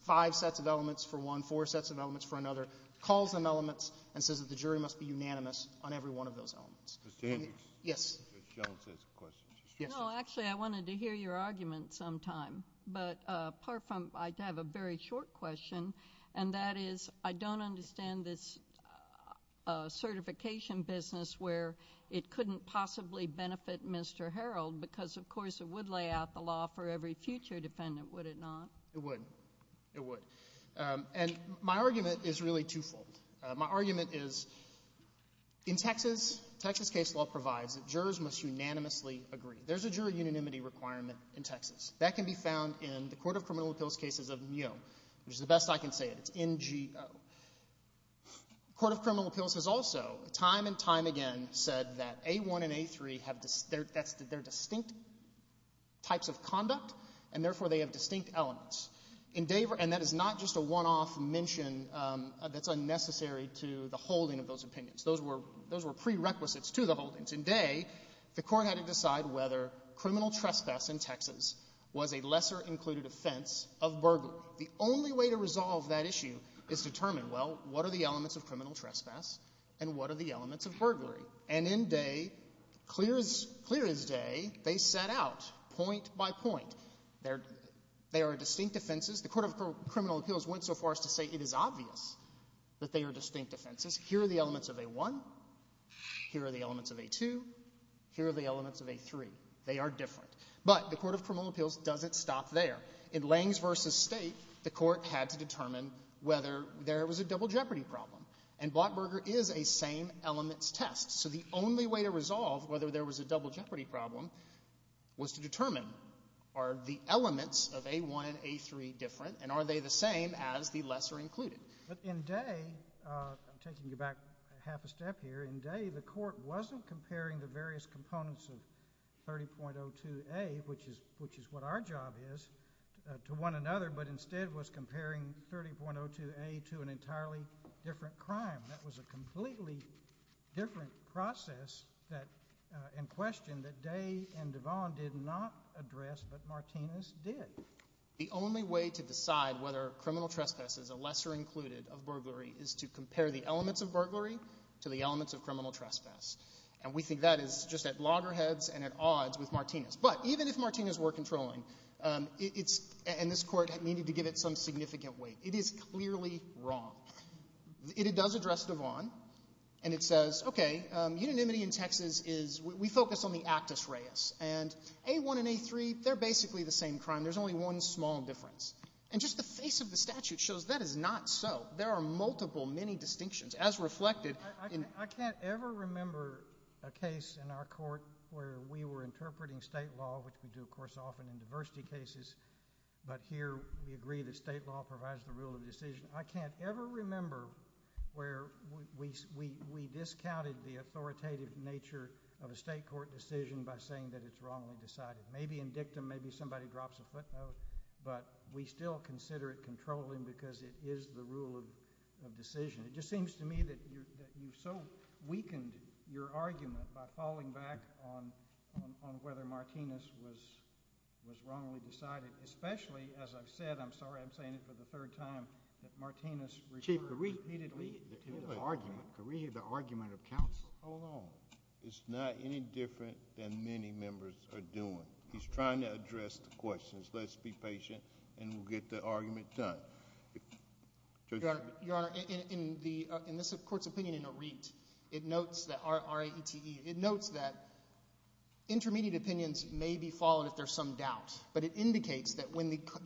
five sets of elements for one, four sets of elements for another, calls them elements, and says the jury must be unanimous on every one of those elements. Ms. Sanders? Yes. Ms. Jones has a question. No, actually, I wanted to hear your argument sometime. But apart from—I have a very short question, and that is, I don't understand this certification business where it couldn't possibly benefit Mr. Herold because, of course, it would lay out the law for every future defendant, would it not? It would. It would. And my argument is really twofold. My argument is, in Texas, Texas case law provides that jurors must unanimously agree. There's a jury unanimity requirement in Texas. That can be found in the court of criminal appeals cases of MEO, which is the best I can say it. It's N-G-O. Court of criminal appeals has also, time and time again, said that A1 and A3 they're distinct types of conduct, and therefore they have distinct elements. And that is not just a one-off mention that's unnecessary to the holding of those opinions. Those were prerequisites to the holdings. In Day, the court had to decide whether criminal trespass in Texas was a lesser included offense of burglary. The only way to resolve that issue is to determine, well, what are the elements of criminal trespass and what are the elements of burglary? And in Day, clear as day, they set out point by point. They are distinct offenses. The court of criminal appeals went so far as to say it is obvious that they are distinct offenses. Here are the elements of A1. Here are the elements of A2. Here are the elements of A3. They are different. But the court of criminal appeals doesn't stop there. In Langs v. State, the court had to determine whether there was a double jeopardy problem. And Blackburger is a same elements test. So the only way to resolve whether there was a double jeopardy problem was to determine, are the elements of A1 and A3 different, and are they the same as the lesser included? But in Day, I'm taking you back half a step here. In Day, the court wasn't comparing the various components of 30.02a, which is what our job is, to one another, but instead was different process in question that Day and Devon did not address, but Martinez did. The only way to decide whether criminal trespass is a lesser included of burglary is to compare the elements of burglary to the elements of criminal trespass. And we think that is just at loggerheads and at odds with Martinez. But even if Martinez were controlling, and this court needed to give it some significant weight, it is clearly wrong. It does address Devon, and it says, okay, unanimity in Texas is, we focus on the actus reus, and A1 and A3, they're basically the same crime. There's only one small difference. And just the face of the statute shows that is not so. There are multiple, many distinctions, as reflected in... I can't ever remember a case in our court where we were interpreting state law, which we do, of course, often in diversity cases, but here we agree that state law provides the decision. I can't ever remember where we discounted the authoritative nature of a state court decision by saying that it's wrongly decided. Maybe in dictum, maybe somebody drops a footnote, but we still consider it controlling because it is the rule of decision. It just seems to me that you so weakened your argument by falling back on whether Martinez was wrongly decided, especially, as I've said, I'm sorry, I'm saying it for the third time, that Martinez referred repeatedly to the argument of counsel alone. It's not any different than many members are doing. He's trying to address the questions. Let's be patient, and we'll get the argument done. Your Honor, in this court's opinion in Arete, it notes that, R-A-E-T-E, it notes that when the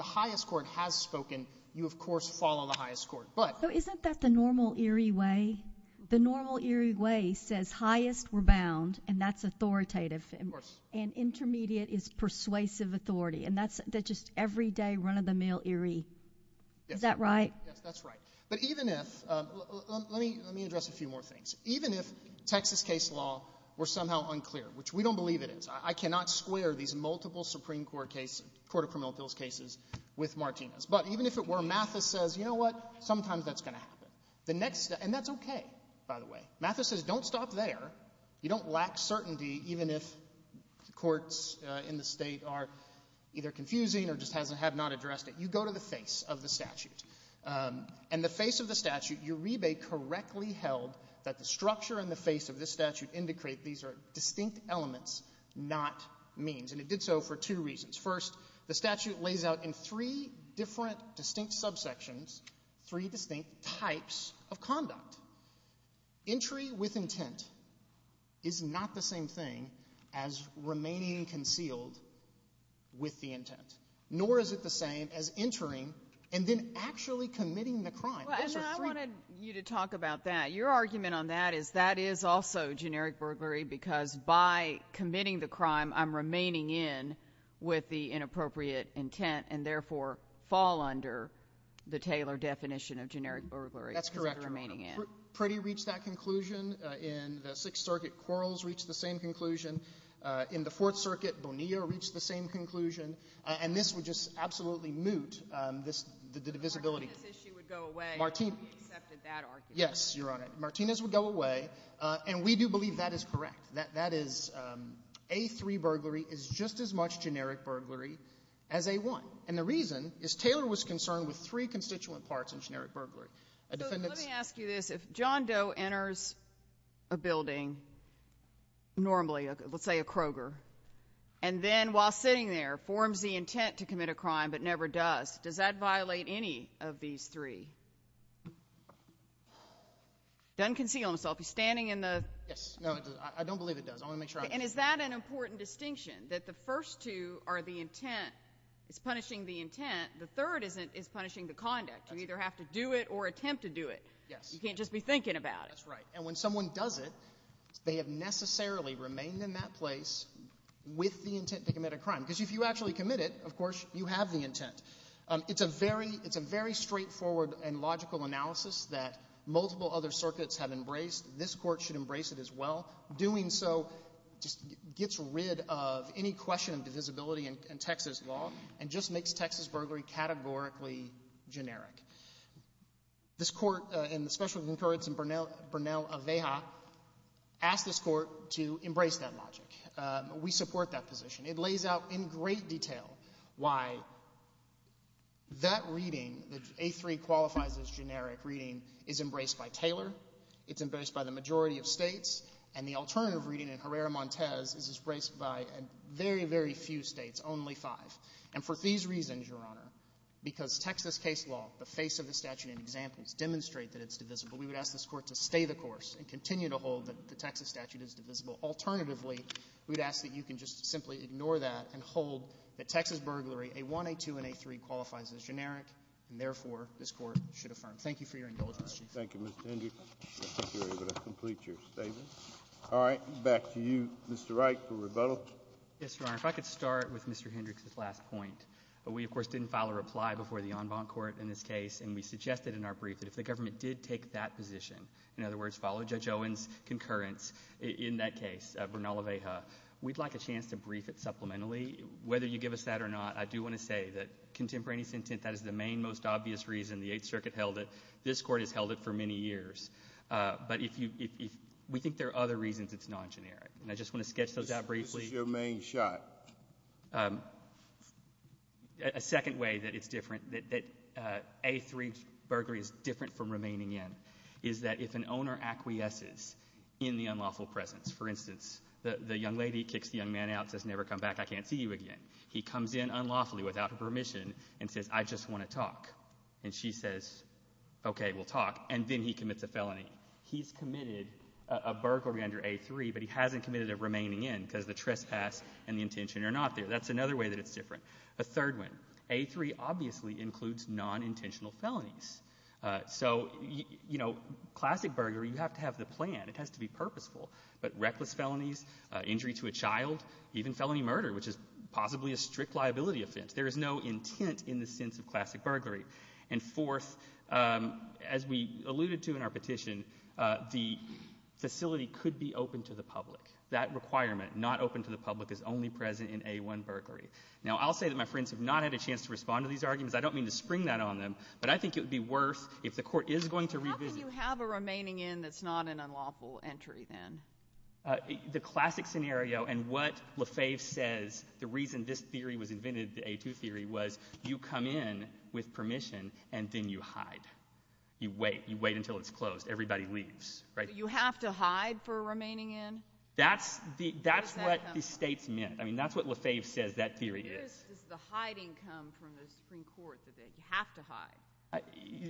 highest court has spoken, you, of course, follow the highest court. So, isn't that the normal Erie way? The normal Erie way says highest were bound, and that's authoritative, and intermediate is persuasive authority, and that's just everyday, run-of-the-mill Erie. Is that right? Yes, that's right. Let me address a few more things. Even if Texas case law were somehow cases with Martinez, but even if it were, Mathis says, you know what, sometimes that's going to happen. And that's okay, by the way. Mathis says don't stop there. You don't lack certainty even if courts in the state are either confusing or just have not addressed it. You go to the face of the statute. And the face of the statute, Uribe correctly held that the structure and the face of this statute indicate these are distinct elements, not means. And it did so for two reasons. First, the statute lays out in three different distinct subsections, three distinct types of conduct. Entry with intent is not the same thing as remaining concealed with the intent, nor is it the same as entering and then actually committing the crime. And I wanted you to talk about that. Your argument on that is that is also generic burglary because by committing the crime, I'm remaining in with the inappropriate intent and therefore fall under the Taylor definition of generic burglary. That's correct, Your Honor. Pretty reached that conclusion. In the Sixth Circuit, Quarles reached the same conclusion. In the Fourth Circuit, Bonilla reached the same conclusion. And this would just absolutely moot the divisibility. Martinez's issue would go away if he accepted that argument. Yes, Your Honor. Martinez would go away. And we do believe that is correct. That is A3 burglary is just as much generic burglary as A1. And the reason is Taylor was concerned with three constituent parts in generic burglary. So let me ask you this. If John Doe enters a building, normally, let's say a Kroger, and then while sitting there forms the intent to commit a crime but never does, does that violate any of these three? Doesn't conceal himself. He's standing in the Yes. No, it doesn't. I don't believe it does. I want to make sure I'm And is that an important distinction that the first two are the intent? It's punishing the intent. The third is punishing the conduct. You either have to do it or attempt to do it. Yes. You can't just be thinking about it. That's right. And when someone does it, they have necessarily remained in that place with the intent to commit a crime. Because if you actually commit it, of course, you have the other circuits have embraced. This Court should embrace it as well. Doing so just gets rid of any question of divisibility in Texas law and just makes Texas burglary categorically generic. This Court and the special concurrence in Burnell-Aveja asked this Court to embrace that logic. We support that position. It lays out in great detail why that reading, that A3 qualifies as generic reading, is embraced by Taylor. It's embraced by the majority of states. And the alternative reading in Herrera-Montez is embraced by a very, very few states, only five. And for these reasons, Your Honor, because Texas case law, the face of the statute and examples, demonstrate that it's divisible, we would ask this Court to stay the course and continue to hold that the Texas statute is divisible. Alternatively, we'd ask that you can just simply ignore that and hold that Texas burglary, A1, A2, and A3 qualifies as generic. And therefore, this Court should affirm. Thank you for your indulgence, Chief. Thank you, Mr. Hendricks. I think you're able to complete your statement. All right. Back to you, Mr. Wright, for rebuttal. Yes, Your Honor. If I could start with Mr. Hendricks' last point. We, of course, didn't file a reply before the en banc court in this case, and we suggested in our brief that if the government did take that position, in other words, follow Judge Owen's concurrence in that case, Burnell-Aveja, we'd like a chance to brief it supplementally. Whether you give us that or not, I do want to say that contemporaneous intent, that is the main, most obvious reason the Eighth Circuit held it. This Court has held it for many years. But we think there are other reasons it's non-generic. And I just want to sketch those out briefly. This is your main shot. A second way that it's different, that A3 burglary is different from remaining in, is that if an owner acquiesces in the unlawful presence, for instance, the young lady kicks young man out, says, never come back, I can't see you again. He comes in unlawfully, without her permission, and says, I just want to talk. And she says, okay, we'll talk. And then he commits a felony. He's committed a burglary under A3, but he hasn't committed a remaining in because the trespass and the intention are not there. That's another way that it's different. A third one. A3 obviously includes non-intentional felonies. So, you know, classic burglary, you have to have the plan. It has to be purposeful. But reckless felonies, injury to a child, even felony murder, which is possibly a strict liability offense, there is no intent in the sense of classic burglary. And fourth, as we alluded to in our petition, the facility could be open to the public. That requirement, not open to the public, is only present in A1 burglary. Now, I'll say that my friends have not had a chance to respond to these arguments. I don't mean to spring that on them. But I think it would be worse if the court is going to revisit. How can you have a remaining in that's not an unlawful entry, then? The classic scenario and what Lefebvre says, the reason this theory was invented, the A2 theory, was you come in with permission and then you hide. You wait. You wait until it's closed. Everybody leaves, right? You have to hide for a remaining in? That's what the states meant. I mean, that's what Lefebvre says that theory is. Does the hiding come from the Supreme Court, that they have to hide?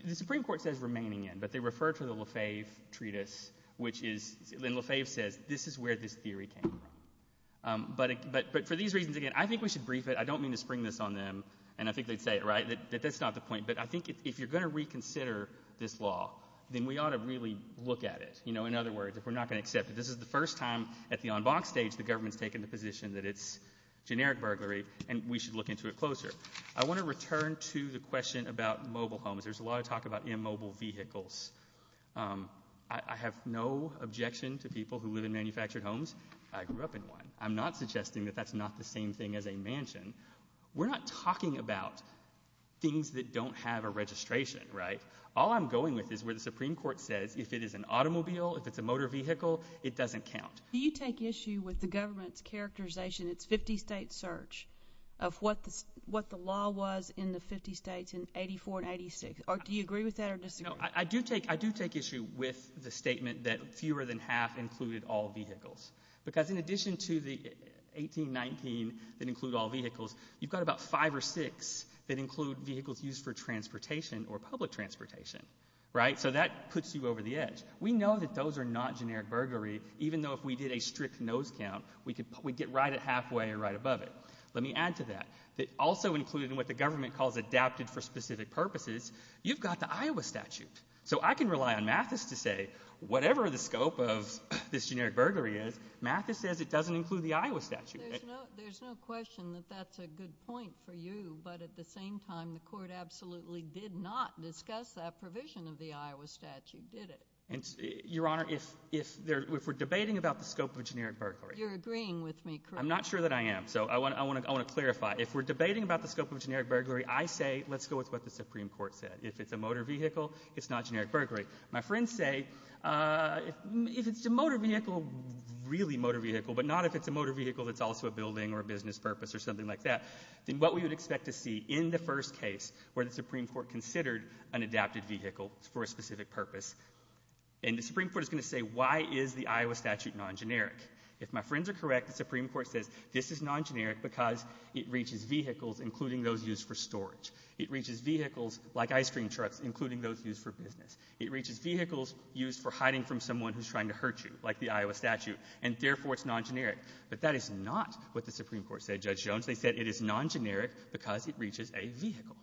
The Supreme Court says remaining in, but they refer to the Lefebvre treatise, which is, and Lefebvre says, this is where this theory came from. But for these reasons, again, I think we should brief it. I don't mean to spring this on them, and I think they'd say it, right, that that's not the point. But I think if you're going to reconsider this law, then we ought to really look at it. You know, in other words, if we're not going to accept it, this is the first time at the en banc stage the government's taken the position that it's generic burglary, and we should look into it closer. I want to return to the question about mobile homes. There's a lot of talk about immobile vehicles. I have no objection to people who live in manufactured homes. I grew up in one. I'm not suggesting that that's not the same thing as a mansion. We're not talking about things that don't have a registration, right? All I'm going with is where the Supreme Court says if it is an automobile, if it's a motor vehicle, it doesn't count. Do you take issue with the government's characterization, its 50-state search, of what the law was in the 50 states in 84 and 86? Or do you agree with that or disagree? I do take issue with the statement that fewer than half included all vehicles. Because in addition to the 18, 19 that include all vehicles, you've got about five or six that include vehicles used for transportation or public transportation, right? So that puts you over the edge. We know that those are not generic burglary, even though if we did a strict nose count, we'd get right at halfway or right above it. Let me add to that, that also included in what the government calls adapted for specific purposes, you've got the Iowa statute. So I can rely on Mathis to say, whatever the scope of this generic burglary is, Mathis says it doesn't include the Iowa statute. There's no question that that's a good point for you. But at the same time, the Court absolutely did not discuss that provision of the Iowa statute, did it? Your Honor, if we're debating about the scope of generic burglary— You're agreeing with me, correct? I'm not sure that I am. So I want to clarify. If we're debating about the scope of generic burglary, I say, let's go with what the Supreme Court said. If it's a motor vehicle, it's not generic burglary. My friends say, if it's a motor vehicle, really motor vehicle, but not if it's a motor vehicle that's also a building or a business purpose or something like that, then what we would expect to see in the first case where the Supreme Court considered an adapted vehicle for a specific purpose, and the Supreme Court is going to say, why is the Iowa statute non-generic? If my friends are correct, the Supreme Court says this is non-generic because it reaches vehicles, including those used for storage. It reaches vehicles like ice cream trucks, including those used for business. It reaches vehicles used for hiding from someone who's trying to hurt you, like the Iowa statute, and therefore it's non-generic. But that is not what the Supreme Court said, Judge Jones. They said it is non-generic because it reaches a vehicle.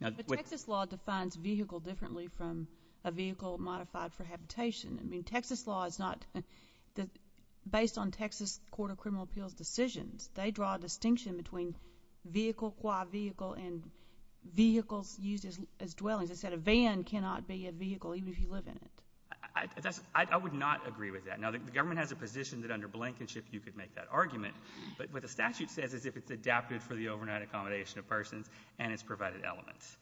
But Texas law defines vehicle differently from a vehicle modified for habitation. I mean, Texas law is not—based on Texas Court of Criminal Appeals decisions, they draw a distinction between vehicle qua vehicle and vehicles used as dwellings. They said a van cannot be a vehicle, even if you live in it. I would not agree with that. Now, the government has a position that under Blankenship you could make that argument, but what the statute says is if it's adapted for the overnight accommodation of persons and its provided elements.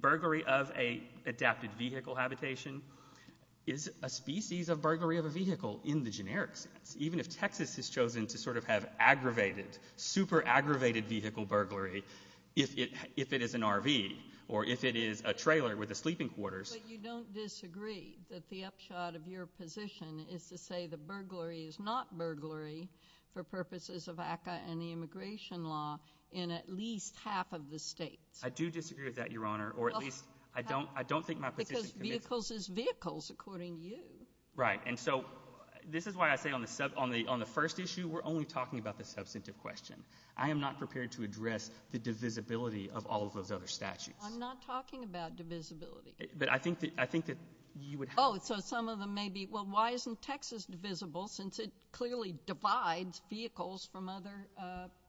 Burglary of an adapted vehicle habitation is a species of burglary of a vehicle in the generic sense. Even if Texas has chosen to sort of have aggravated, super aggravated vehicle burglary, if it is an RV or if it is a trailer with a sleeping quarters— But you don't disagree that the upshot of your position is to say the burglary is not burglary for purposes of ACCA and the immigration law in at least half of the states? I do disagree with that, Your Honor, or at least I don't think my position— Because vehicles is vehicles, according to you. Right. And so this is why I say on the first issue, we're only talking about the substantive question. I am not prepared to address the divisibility of all of those other statutes. I'm not talking about divisibility. But I think that you would have— Oh, so some of them may be, well, why isn't Texas divisible since it clearly divides vehicles from other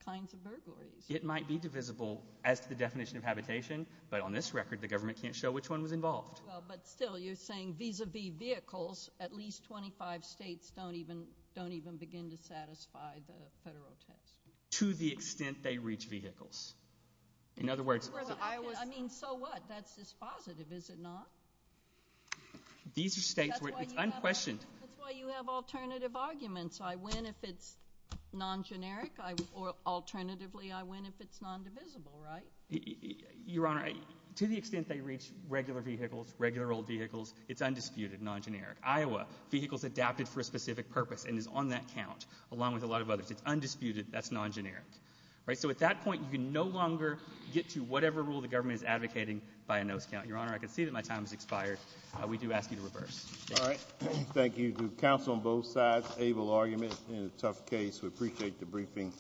kinds of burglaries? It might be divisible as to the definition of habitation, but on this record, the government can't show which one was involved. But still, you're saying vis-a-vis vehicles, at least 25 states don't even begin to satisfy the federal test. To the extent they reach vehicles. In other words— Well, I was— I mean, so what? That's just positive, is it not? These are states where it's unquestioned— That's why you have alternative arguments. I win if it's non-generic, or alternatively, I win if it's non-divisible, right? Your Honor, to the extent they reach regular vehicles, regular old vehicles, it's undisputed, non-generic. Iowa, vehicles adapted for a specific purpose and is on that count, along with a lot of others. It's undisputed. That's non-generic, right? So at that point, you can no longer get to whatever rule the government is advocating by a nose count. Your Honor, I can see that my time has expired. We do ask you to reverse. All right. Thank you to counsel on both sides. Able argument in a tough case. We appreciate the briefing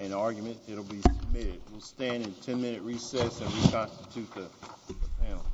and argument. It'll be submitted. We'll stand in 10-minute recess and reconstitute the panel.